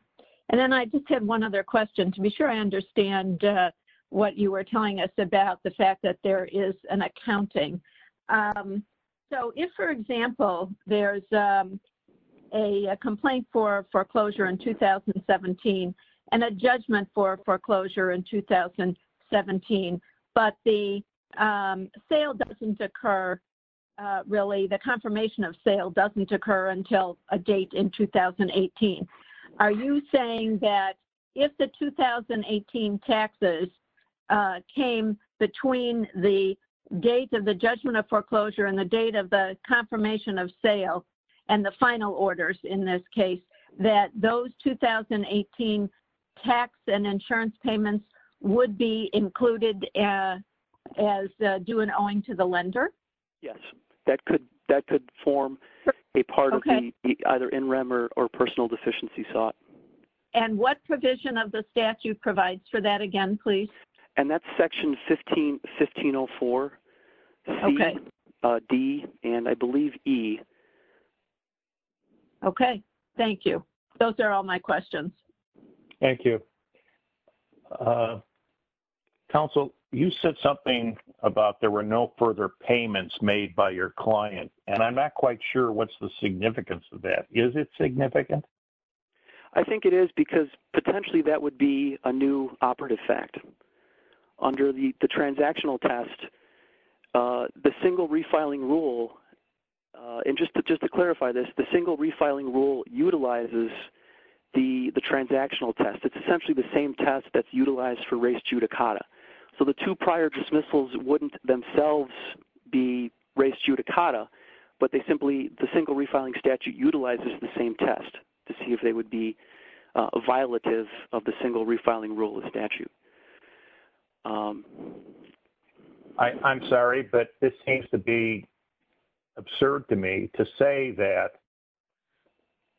And then I just have one other question. To be sure I understand what you were telling us about the fact that there is an accounting. So if, for example, there's a complaint for foreclosure in 2017 and a judgment for foreclosure in 2017, but the sale doesn't occur, really, the confirmation of sale doesn't occur until a date in 2018. Are you saying that if the 2018 taxes came between the date of the judgment of foreclosure and the date of the confirmation of sale and the final orders in this case, that those 2018 tax and insurance payments would be included as due and owing to the lender? Yes. That could form a part of the either NREM or personal deficiency sought. And what provision of the statute provides for that again, please? And that's section 1504, C, D, and I believe E. Okay. Thank you. Those are all my questions. Thank you. Council, you said something about there were no further payments made by your client, and I'm not quite sure what's the significance of that. Is it significant? I think it is because potentially that would be a new operative fact. Under the transactional test, the single refiling rule, and just to clarify this, the single refiling rule utilizes the transactional test. It's essentially the same test that's utilized for res judicata. So the two prior dismissals wouldn't themselves be res judicata, but they simply, the single refiling statute utilizes the same test to see if they would be a violative of the single refiling rule of statute. I'm sorry, but this seems to be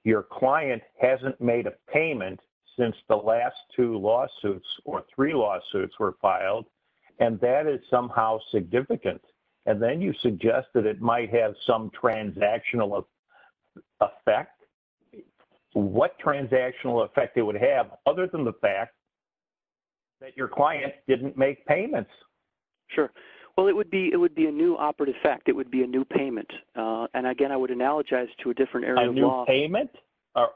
your client hasn't made a payment since the last two lawsuits or three lawsuits were filed, and that is somehow significant. And then you suggest that it might have some transactional effect. What transactional effect it would have other than the fact that your client didn't make payments? Sure. Well, it would be a new operative fact. It would be a new payment. And again, I would analogize to a different area of law.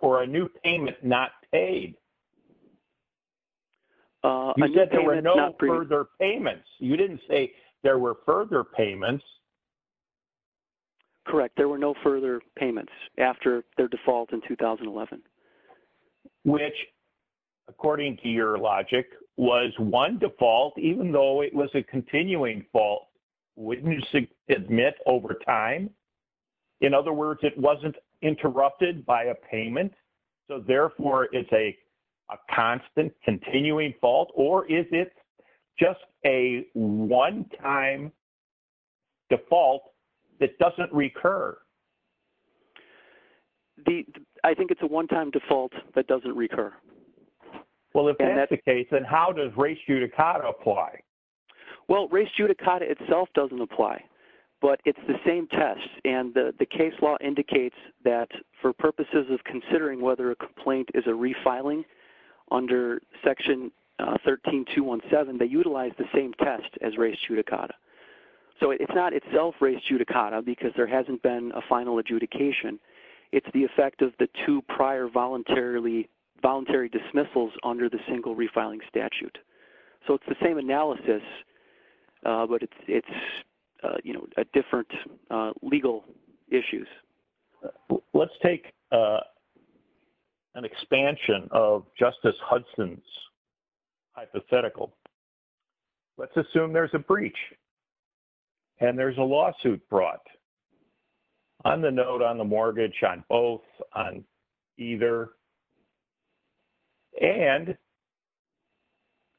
Or a new payment not paid. You said there were no further payments. You didn't say there were further payments. Correct. There were no further payments after their default in 2011. Which, according to your logic, was one default, even though it was a continuing fault, wouldn't you admit over time? In other words, it wasn't interrupted by a payment, so therefore it's a constant continuing fault? Or is it just a one-time default that doesn't recur? I think it's a one-time default that doesn't recur. Well, if that's the case, then how does res judicata apply? Well, res judicata itself doesn't apply, but it's the same test. And the case law indicates that for purposes of considering whether a complaint is a refiling under Section 13217, they utilize the same test as res judicata. So it's not itself res judicata because there hasn't been a final adjudication. It's the effect of the two prior voluntary dismissals under the single analysis, but it's a different legal issue. Let's take an expansion of Justice Hudson's hypothetical. Let's assume there's a breach and there's a lawsuit brought on the note, on the mortgage, on both, on either, and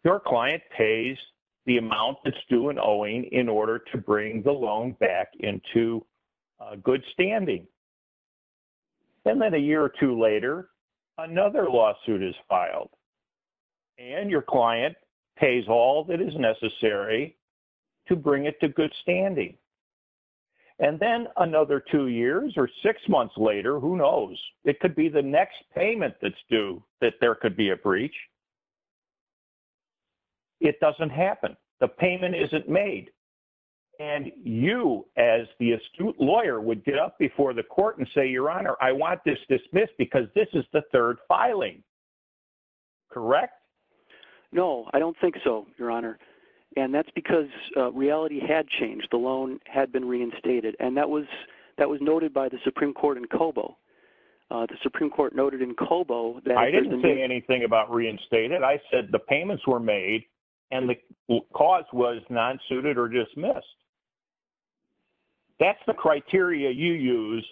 your client pays the amount that's due in owing in order to bring the loan back into good standing. And then a year or two later, another lawsuit is filed, and your client pays all that is necessary to bring it to good standing. And then another two years or six months later, who knows? It could be the next payment that's due that there could be a breach. It doesn't happen. The payment isn't made. And you, as the astute lawyer, would get up before the court and say, Your Honor, I want this dismissed because this is the third filing. Correct? No, I don't think so, Your Honor. And that's because reality had changed. The loan had been reinstated. And that was noted by the Supreme Court in Cobo. The Supreme Court noted in Cobo that- I didn't say anything about reinstated. I said the payments were made and the cause was non-suited or dismissed. That's the criteria you use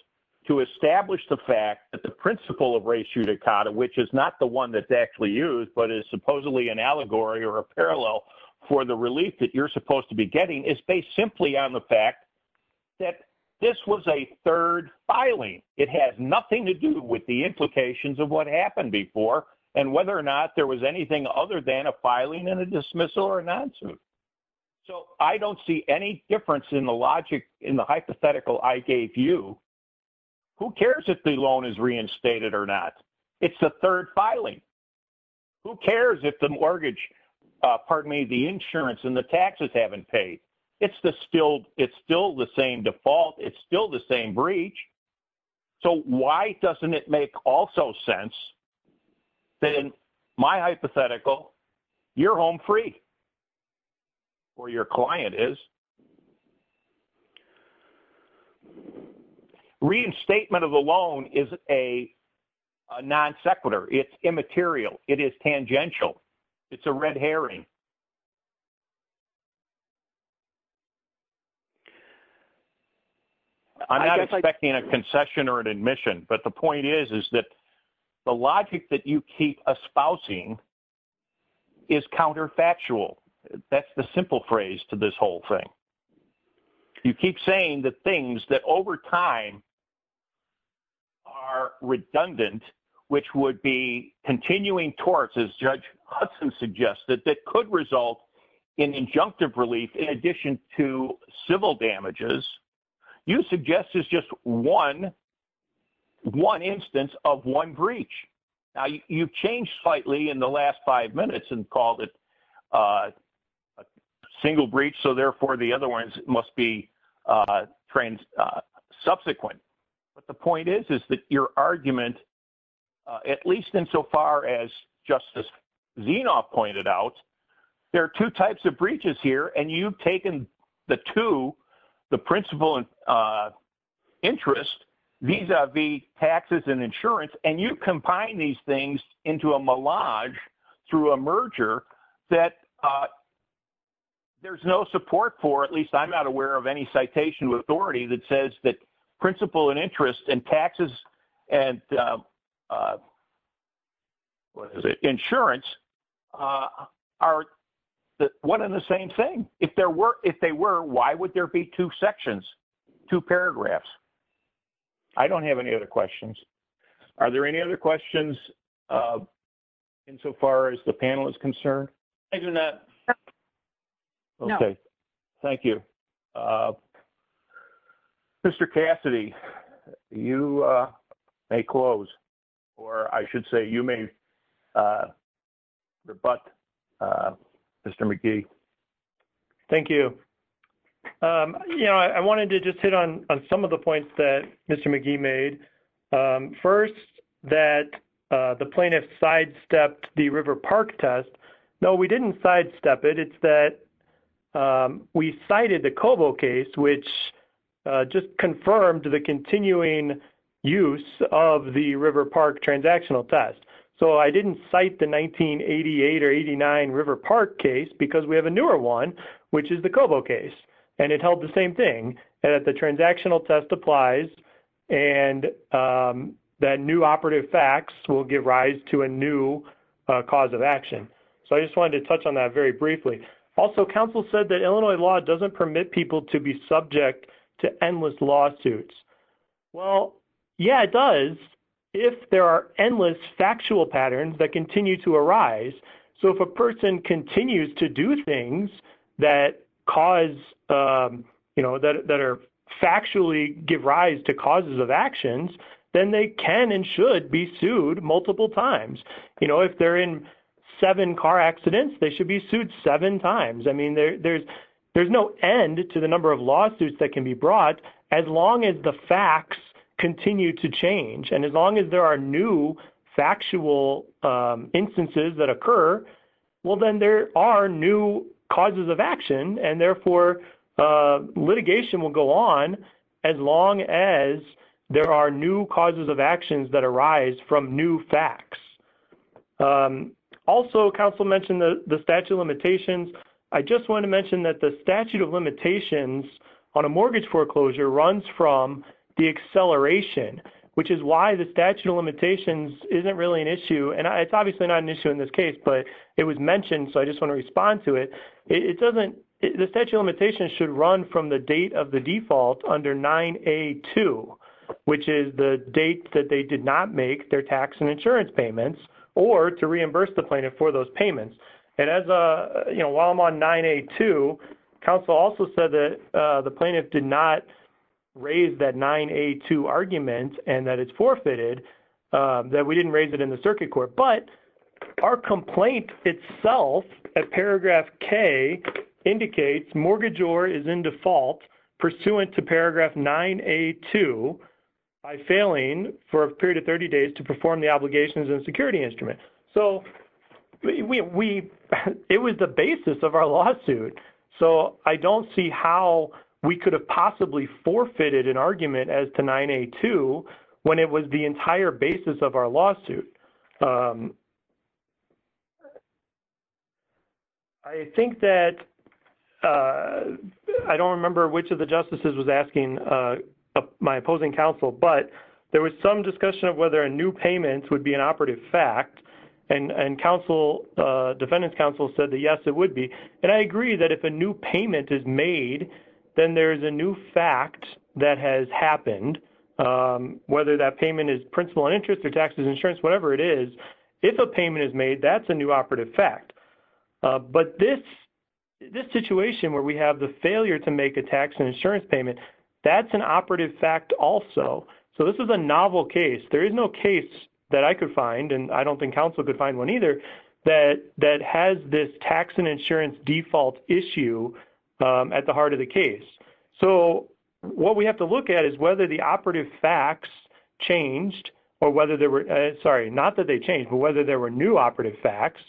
to establish the fact that the principle of res judicata, which is not the one that's actually used, but is supposedly an allegory or a parallel for the relief that you're supposed to be getting, is based simply on the fact that this was a third filing. It has nothing to do with the implications of what happened before and whether or not there was anything other than a filing and a dismissal or a non-suit. So I don't see any difference in the logic, in the hypothetical I gave you. Who cares if the loan is reinstated or not? It's the third filing. Who cares if the mortgage- pardon me, the insurance and the taxes haven't paid? It's the still- it's still the same default. It's still the same breach. So why doesn't it make also sense that in my hypothetical, you're home free or your client is? Reinstatement of the loan is a non-sequitur. It's immaterial. It is tangential. It's a red herring. I'm not expecting a concession or an admission, but the point is, is that the logic that you keep espousing is counterfactual. That's the simple phrase to this whole thing. You keep saying the things that over time are redundant, which would be continuing towards, as Judge Hudson suggested, that could result in injunctive relief in addition to civil damages, you suggest is just one instance of one breach. Now you've changed slightly in the last five minutes and called it a single breach. So therefore the other ones must be subsequent. But the point is, is that your argument, at least insofar as Justice Zinoff pointed out, there are two types of breaches here, and you've taken the two, the principal interest vis-a-vis taxes and insurance, and you combine these things into a melange through a merger that there's no support for, at least I'm not aware of any citation with authority that says that principal and interest and taxes and insurance are one and the same thing. If they were, why would there be two sections, two paragraphs? I don't have any other questions. Are there any other questions insofar as the panel is concerned? No. Okay. Thank you. Mr. Cassidy, you may close, or I should say you may rebut, Mr. McGee. Thank you. You know, I wanted to just hit on some of the points that Mr. McGee made. First, that the plaintiff sidestepped the River Park test. No, we didn't sidestep it. It's that we cited the Cobo case, which just confirmed the continuing use of the River Park transactional test. So I didn't cite the 1988 or 89 River Park case because we have a newer one, which is the Cobo case, and it held the same thing, that the transactional test applies and that new operative facts will give rise to a new cause of action. So I just wanted to touch on that very briefly. Also, counsel said that Illinois law doesn't permit people to be subject to endless lawsuits. Well, yeah, it does if there are endless factual patterns that continue to arise. So if a person continues to do things that cause, you know, that are factually give rise to causes of actions, then they can and should be sued multiple times. You know, if they're in seven car accidents, they should be sued seven times. I mean, there's no end to the number of lawsuits that can be brought as long as the facts continue to change. And as long as there are new factual instances that occur, well, then there are new causes of action, and therefore litigation will go on as long as there are new causes of actions that arise from new facts. Also, counsel mentioned the statute of limitations. I just wanted to mention that the statute of limitations on a mortgage foreclosure runs from the acceleration, which is why the statute of limitations isn't really an issue. And it's mentioned, so I just want to respond to it. The statute of limitations should run from the date of the default under 9A2, which is the date that they did not make their tax and insurance payments, or to reimburse the plaintiff for those payments. And while I'm on 9A2, counsel also said that the plaintiff did not raise that 9A2 argument and that it's forfeited, that we didn't raise it in circuit court. But our complaint itself at paragraph K indicates mortgagor is in default pursuant to paragraph 9A2 by failing for a period of 30 days to perform the obligations and security instrument. So it was the basis of our lawsuit. So I don't see how we could have possibly forfeited an argument as to 9A2 when it was the entire basis of our lawsuit. I think that, I don't remember which of the justices was asking my opposing counsel, but there was some discussion of whether a new payment would be an operative fact. And counsel, defendant's counsel said that yes, it would be. And I agree that if a new payment is made, then there's a new fact that has happened, whether that payment is principal and interest or tax and insurance, whatever it is. If a payment is made, that's a new operative fact. But this situation where we have the failure to make a tax and insurance payment, that's an operative fact also. So this is a novel case. There is no case that I could find, and I don't think counsel could find one either, that has this tax and insurance default issue at the heart of the case. So what we have to look at is whether the operative facts changed or whether there were, sorry, not that they changed, but whether there were new operative facts.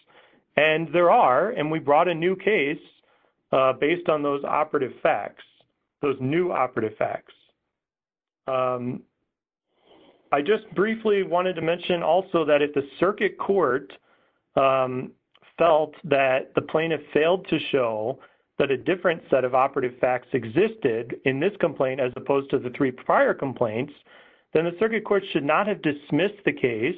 And there are, and we brought a new case based on those operative facts, those new operative facts. I just briefly wanted to mention also that if the circuit court felt that the plaintiff failed to show that a different set of operative facts existed in this complaint as opposed to the three prior complaints, then the circuit court should not have dismissed the case,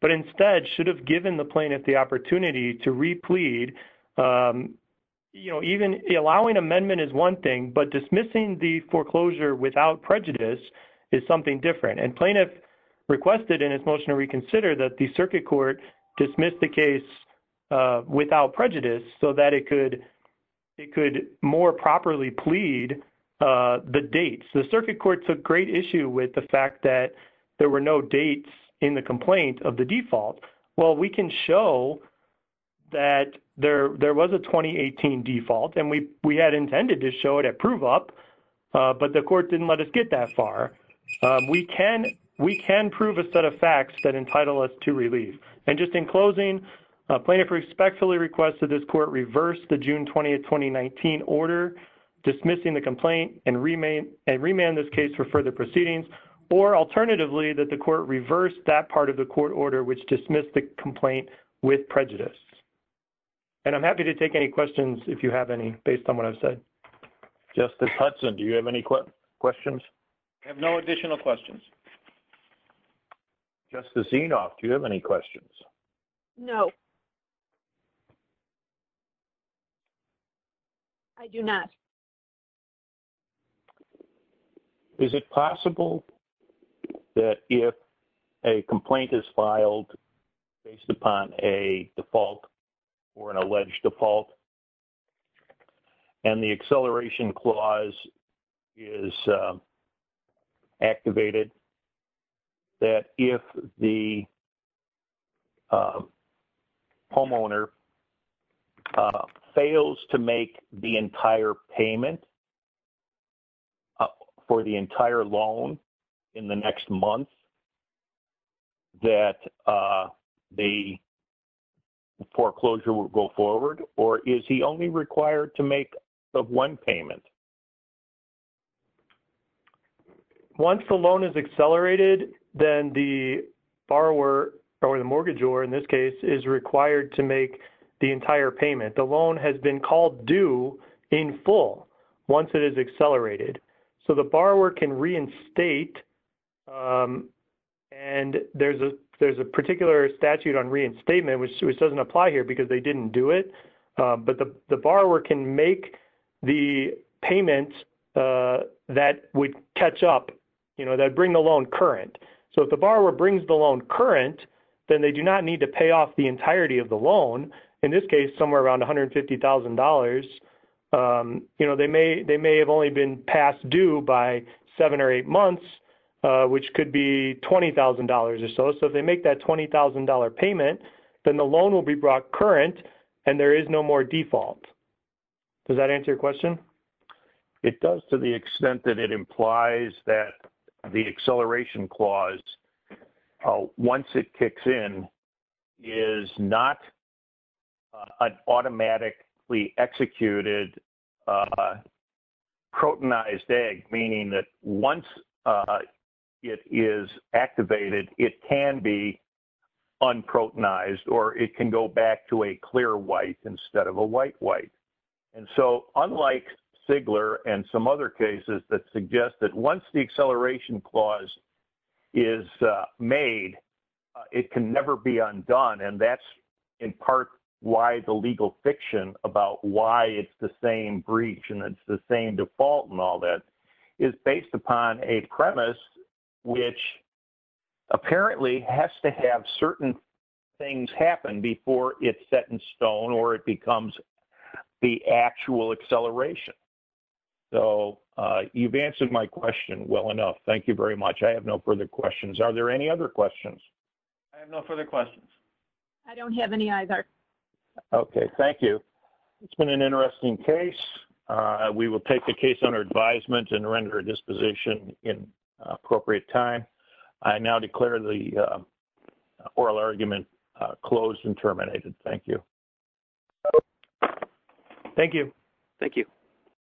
but instead should have given the plaintiff the opportunity to re-plead. You know, even allowing amendment is one thing, but dismissing the foreclosure without prejudice is something different. And plaintiff requested in his motion to reconsider that the circuit court dismiss the case without prejudice so that it could more properly plead the dates. The circuit court took great issue with the fact that there were no dates in the complaint of the default. Well, we can show that there was a 2018 default, and we had intended to show it at prove up, but the court didn't let us get that far. We can prove a set of facts that entitle us to relief. And just in closing, plaintiff respectfully requested this court reverse the June 20, 2019 order dismissing the complaint and remand this case for further proceedings, or alternatively that the court reverse that part of the court order which dismissed the complaint with prejudice. And I'm happy to take any questions if you have any based on what I've said. Justice Hudson, do you have any questions? I have no additional questions. Justice Enoff, do you have any questions? No. I do not. Is it possible that if a complaint is filed based upon a default or an alleged default, and the acceleration clause is activated, that if the homeowner fails to make the entire payment for the entire loan in the next month, that the foreclosure will go forward? Or is he only required to make the one payment? Once the loan is accelerated, then the borrower or the mortgage borrower in this case is required to make the entire payment. The loan has been called due in full once it is accelerated. So the borrower can reinstate, and there's a particular statute on reinstatement which doesn't apply here because they didn't do it. But the borrower can make the payment that would catch up, you know, that would bring the loan current. So if the borrower brings the loan current, then they do not need to pay off the entirety of the loan, in this case somewhere around $150,000. You know, they may have only been passed due by seven or eight months, which could be $20,000 or so. So if they make that $20,000 payment, then the loan will be brought current, and there is no more default. Does that answer your question? It does to the extent that it implies that the acceleration clause, once it kicks in, is not an automatically executed protonized egg, meaning that once it is activated, it can be unprotonized, or it can go back to a clear white instead of a white white. And so unlike Sigler and some other cases that suggest that once the acceleration clause is made, it can never be undone, and that's in part why the legal fiction about why it's the same breach and it's the same default and all that is based upon a premise which apparently has to have certain things happen before it's set in stone or it becomes the actual acceleration. So you've answered my question well enough. Thank you very much. I have no further questions. Are there any other questions? I have no further questions. I don't have any either. Okay, thank you. It's been an interesting case. We will take the case under advisement and render disposition in appropriate time. I now declare the oral argument closed and terminated. Thank you. Thank you. Thank you.